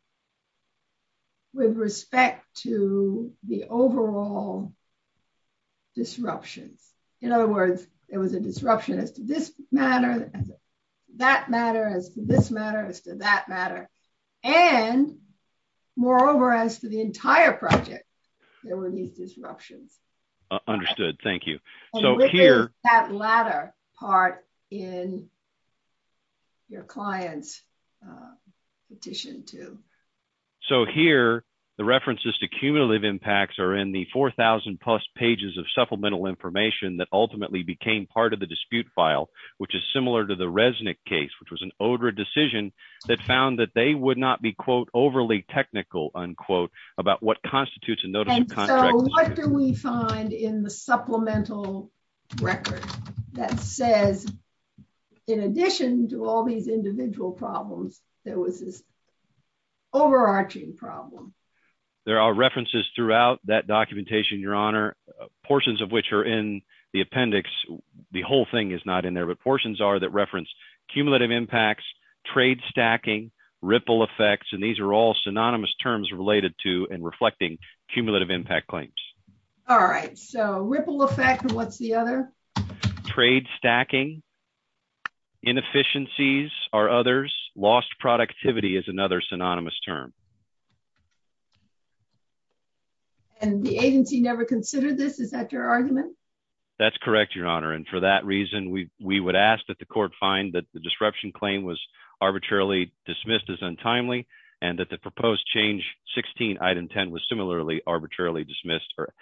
With respect to the overall disruption. In other words, there was a disruption as to this matter, that matter, this matter, that matter. And moreover, as to the entire project, there were these disruptions. Understood. Thank you. So here... That latter part in your client's petition, too. So here, the references to cumulative impacts are in the 4,000 plus pages of supplemental information that ultimately became part of the dispute file, which is similar to the Resnick case, which was an ODRA decision that found that they would not be, quote, overly technical, unquote, about what constitutes a notice of... And so what do we find in the supplemental record that says, in addition to all these individual problems, there was this overarching problem? There are references throughout that documentation, Your Honor, portions of which are in the appendix. The whole thing is not in there, but portions are that reference cumulative impacts, trade stacking, ripple effects, and these are all synonymous terms related to and reflecting cumulative impact claims. All right. So ripple effect, and what's the other? Trade stacking. Inefficiencies are others. Lost productivity is another synonymous term. And the agency never considered this? Is that your argument? That's correct, Your Honor. And for that reason, we would ask that the court find that the disruption claim was arbitrarily dismissed as untimely, and that the proposed change, 16, item 10, was similarly arbitrarily dismissed for...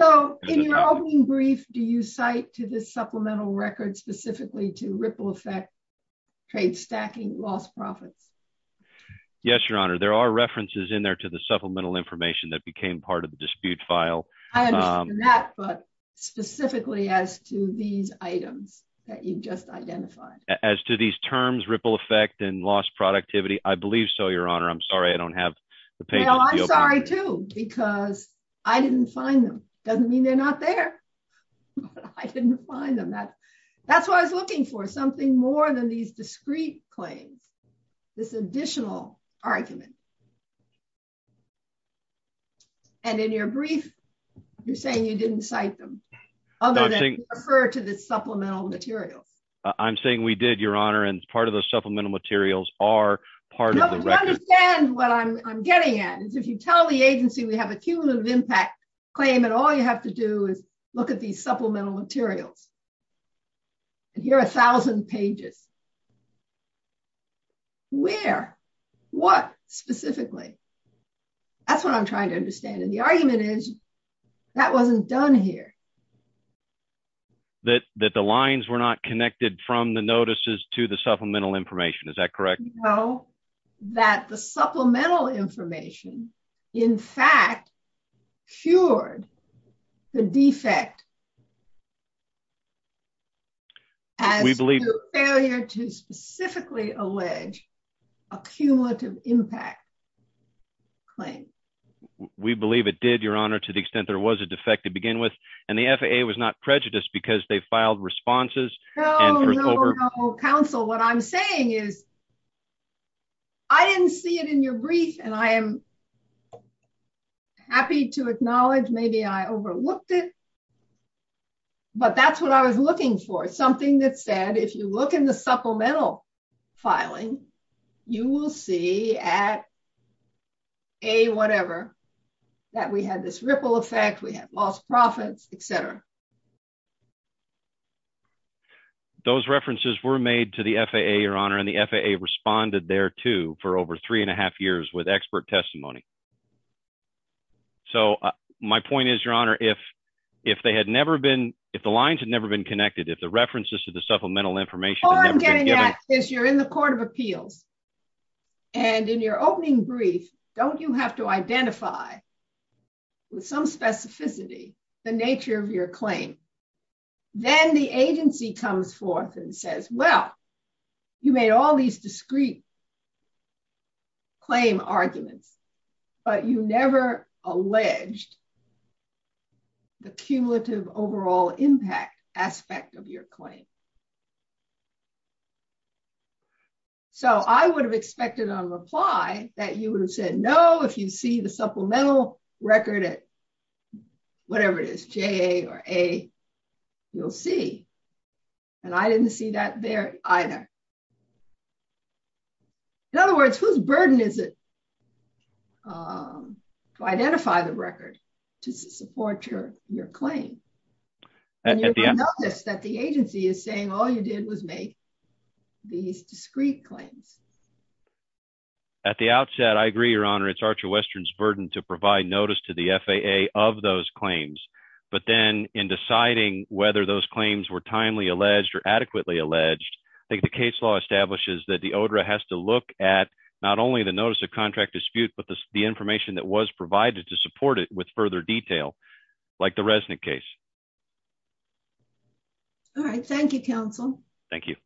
So in your opening brief, do you cite to this supplemental record specifically to ripple effect, trade stacking, lost profit? Yes, Your Honor. There are references in there to the supplemental information that became part of the dispute file. I understand that, but specifically as to these items that you've just identified. As to these terms, ripple effect, and lost productivity? I believe so, Your Honor. I'm sorry I don't have the paper. Well, I'm sorry too, because I didn't find them. Doesn't mean they're not there. I didn't find them. That's what I was asking for, something more than these discrete claims, this additional argument. And in your brief, you're saying you didn't cite them, other than refer to this supplemental material. I'm saying we did, Your Honor, and part of the supplemental materials are part of the record. You have to understand what I'm getting at. If you tell the agency we have a cumulative impact claim, and all you have to do is look at these supplemental materials. And here are a thousand pages. Where? What, specifically? That's what I'm trying to understand. And the argument is, that wasn't done here. That the lines were not connected from the notices to the supplemental information, is that correct? No, that the supplemental information, in fact, cured the defect. We believe it did, Your Honor, to the extent there was a defect to begin with, and the FAA was not prejudiced because they filed responses. No, no, no, counsel, what I'm saying is, I didn't see it in your brief, and I am happy to acknowledge maybe I overlooked it, but that's what I was looking for. Something that said, if you look in the supplemental filing, you will see at A, whatever, that we had this ripple effect, we had lost profits, et cetera. Those references were made to the FAA, Your Honor, and the FAA responded there, too, for over three and a half years with expert testimony. So, my point is, Your Honor, if they had never been, if the lines had never been connected, if the references to the supplemental information... All I'm getting at is, you're in the Court of Appeals, and in your opening brief, don't you have to identify with some specificity the nature of your claim? Then the agency comes forth and says, well, you made all these discreet claim arguments, but you never alleged the cumulative overall impact aspect of your claim. So, I would have expected on the fly that you would have said, no, if you see the supplemental record at whatever it is, J or A, you'll see, and I didn't see that there either. In other words, whose burden is it to identify the record to support your claim? And you'll notice that the agency is saying all you did was make these discreet claims. At the outset, I agree, Your Honor, it's Archer Western's burden to provide notice to the FAA of those claims, but then in deciding whether those claims were timely alleged or adequately alleged, I think the case law establishes that the ODRA has to look at not only the notice of contract dispute, but the information that was provided to support it with further detail, like the Resnick case. All right. Thank you, counsel. Thank you.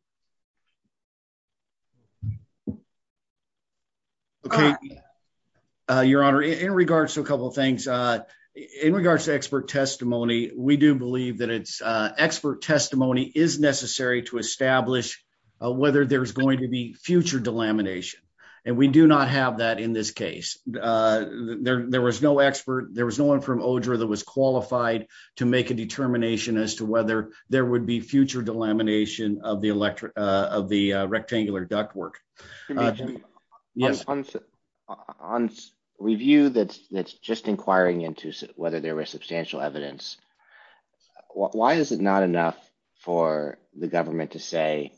Your Honor, in regards to a couple of things, in regards to expert testimony, we do believe that expert testimony is necessary to establish whether there's going to be future delamination, and we do not have that in this case. There was no expert, there was no one from ODRA that was qualified to make a determination as to whether there would be future delamination of the rectangular duct work. On review that's just inquiring into whether there was substantial evidence, why is it not enough for the government to say,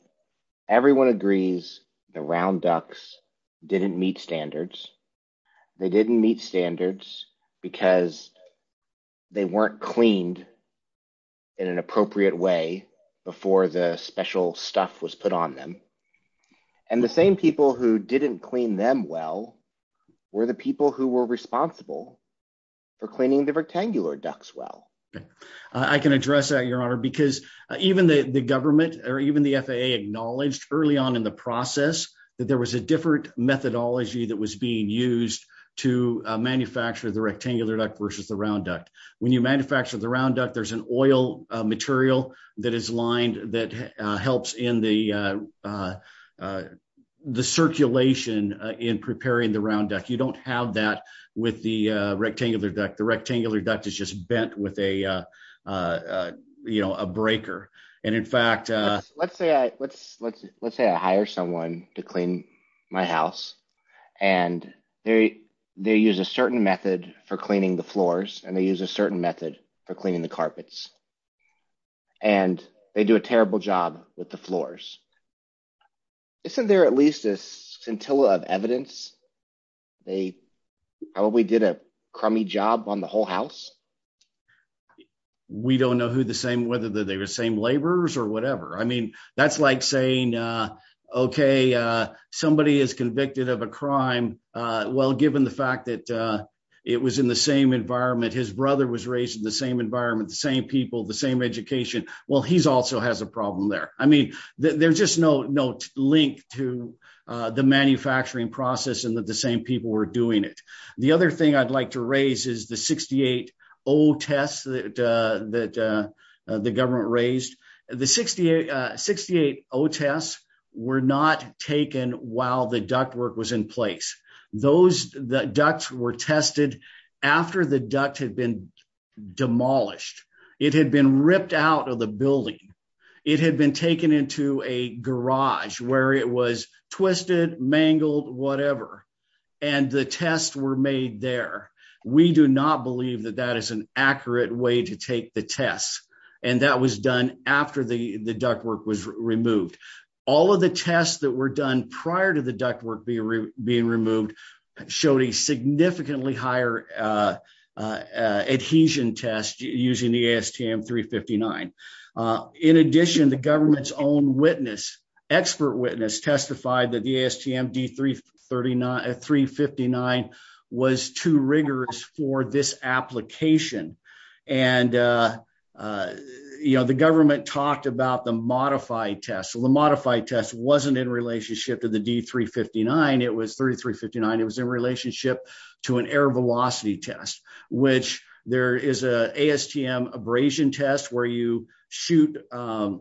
everyone agrees the round ducts didn't meet standards, they didn't meet standards because they weren't cleaned in an appropriate way before the special stuff was put on them, and the same people who didn't clean them well were the people who were responsible for cleaning the rectangular ducts well. I can address that, Your Honor, because even the FAA acknowledged early on in the process that there was a different methodology that was being used to manufacture the rectangular duct versus the round duct. When you manufacture the round duct, there's an oil material that is lined that helps in the circulation in preparing the round duct. You don't have that with the rectangular duct. The rectangular duct is just bent with a breaker. Let's say I hire someone to clean my house and they use a certain method for cleaning the floors and they use a certain method for cleaning the carpets and they do a terrible job with the floors. Isn't there at least a scintilla of evidence they probably did a crummy job on the whole house? We don't know whether they were the same laborers or whatever. That's like saying somebody is convicted of a crime given the fact that it was in the same environment, his brother was raised in the same environment, the same people, the same education. He also has a problem there. There's just no link to the manufacturing process and that the same people were doing it. The other thing I'd like to raise is the 68-0 tests that the government raised. The 68-0 tests were not taken while the duct work was in place. The ducts were tested after the duct had been demolished. It had been ripped out of the building. It had been taken into a garage where it was twisted, mangled, whatever. The tests were made there. We do not believe that that is an accurate way to take the test. That was done after the duct work was removed. All of the tests that were done prior to the duct work being removed showed a significantly higher adhesion test using the ASTM 359. In addition, the government's own expert witness testified that the ASTM D359 was too rigorous for this application. The government talked about the air velocity test, which there is an ASTM abrasion test where you shoot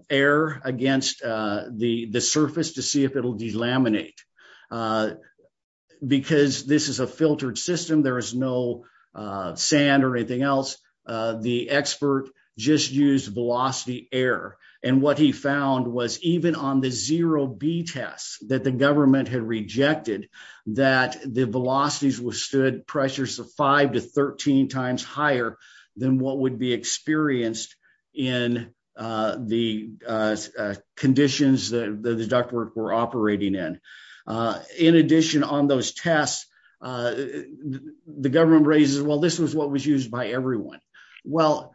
air against the surface to see if it will delaminate. Because this is a filtered system, there is no sand or anything else. The expert just used velocity air. What he found was even on the 0B test that the government had rejected, that the velocities were stood pressures of 5 to 13 times higher than what would be experienced in the conditions that the duct work were operating in. In addition, on those tests, the government raises, well, this is what was used by everyone. Well,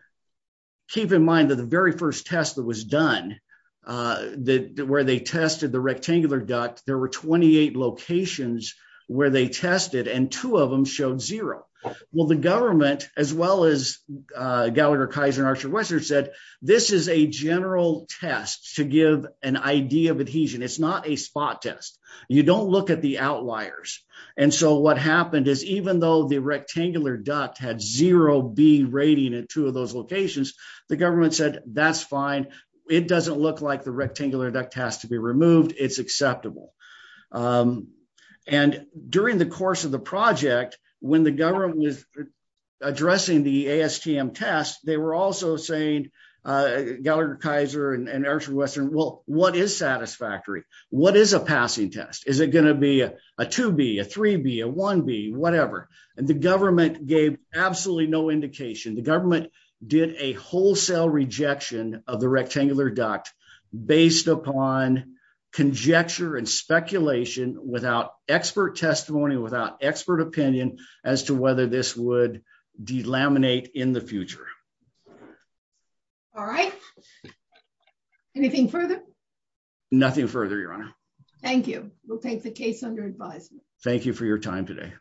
keep in mind that the first test that was done, where they tested the rectangular duct, there were 28 locations where they tested and two of them showed zero. Well, the government, as well as Gallagher-Kaiser and Archer-Westerner said, this is a general test to give an idea of adhesion. It is not a spot test. You don't look at the outliers. What happened is even though the test is fine, it doesn't look like the rectangular duct has to be removed. It is acceptable. During the course of the project, when the government was addressing the ASTM test, they were also saying, Gallagher-Kaiser and Archer-Westerner, well, what is satisfactory? What is a passing test? Is it going to be a 2B, a 3B, a 1B, whatever? The government gave absolutely no indication. The government did a wholesale rejection of the rectangular duct based upon conjecture and speculation without expert testimony, without expert opinion as to whether this would delaminate in the future. All right. Anything further? Nothing further, Your Honor. Thank you. We'll take the case under advice. Thank you for your time today.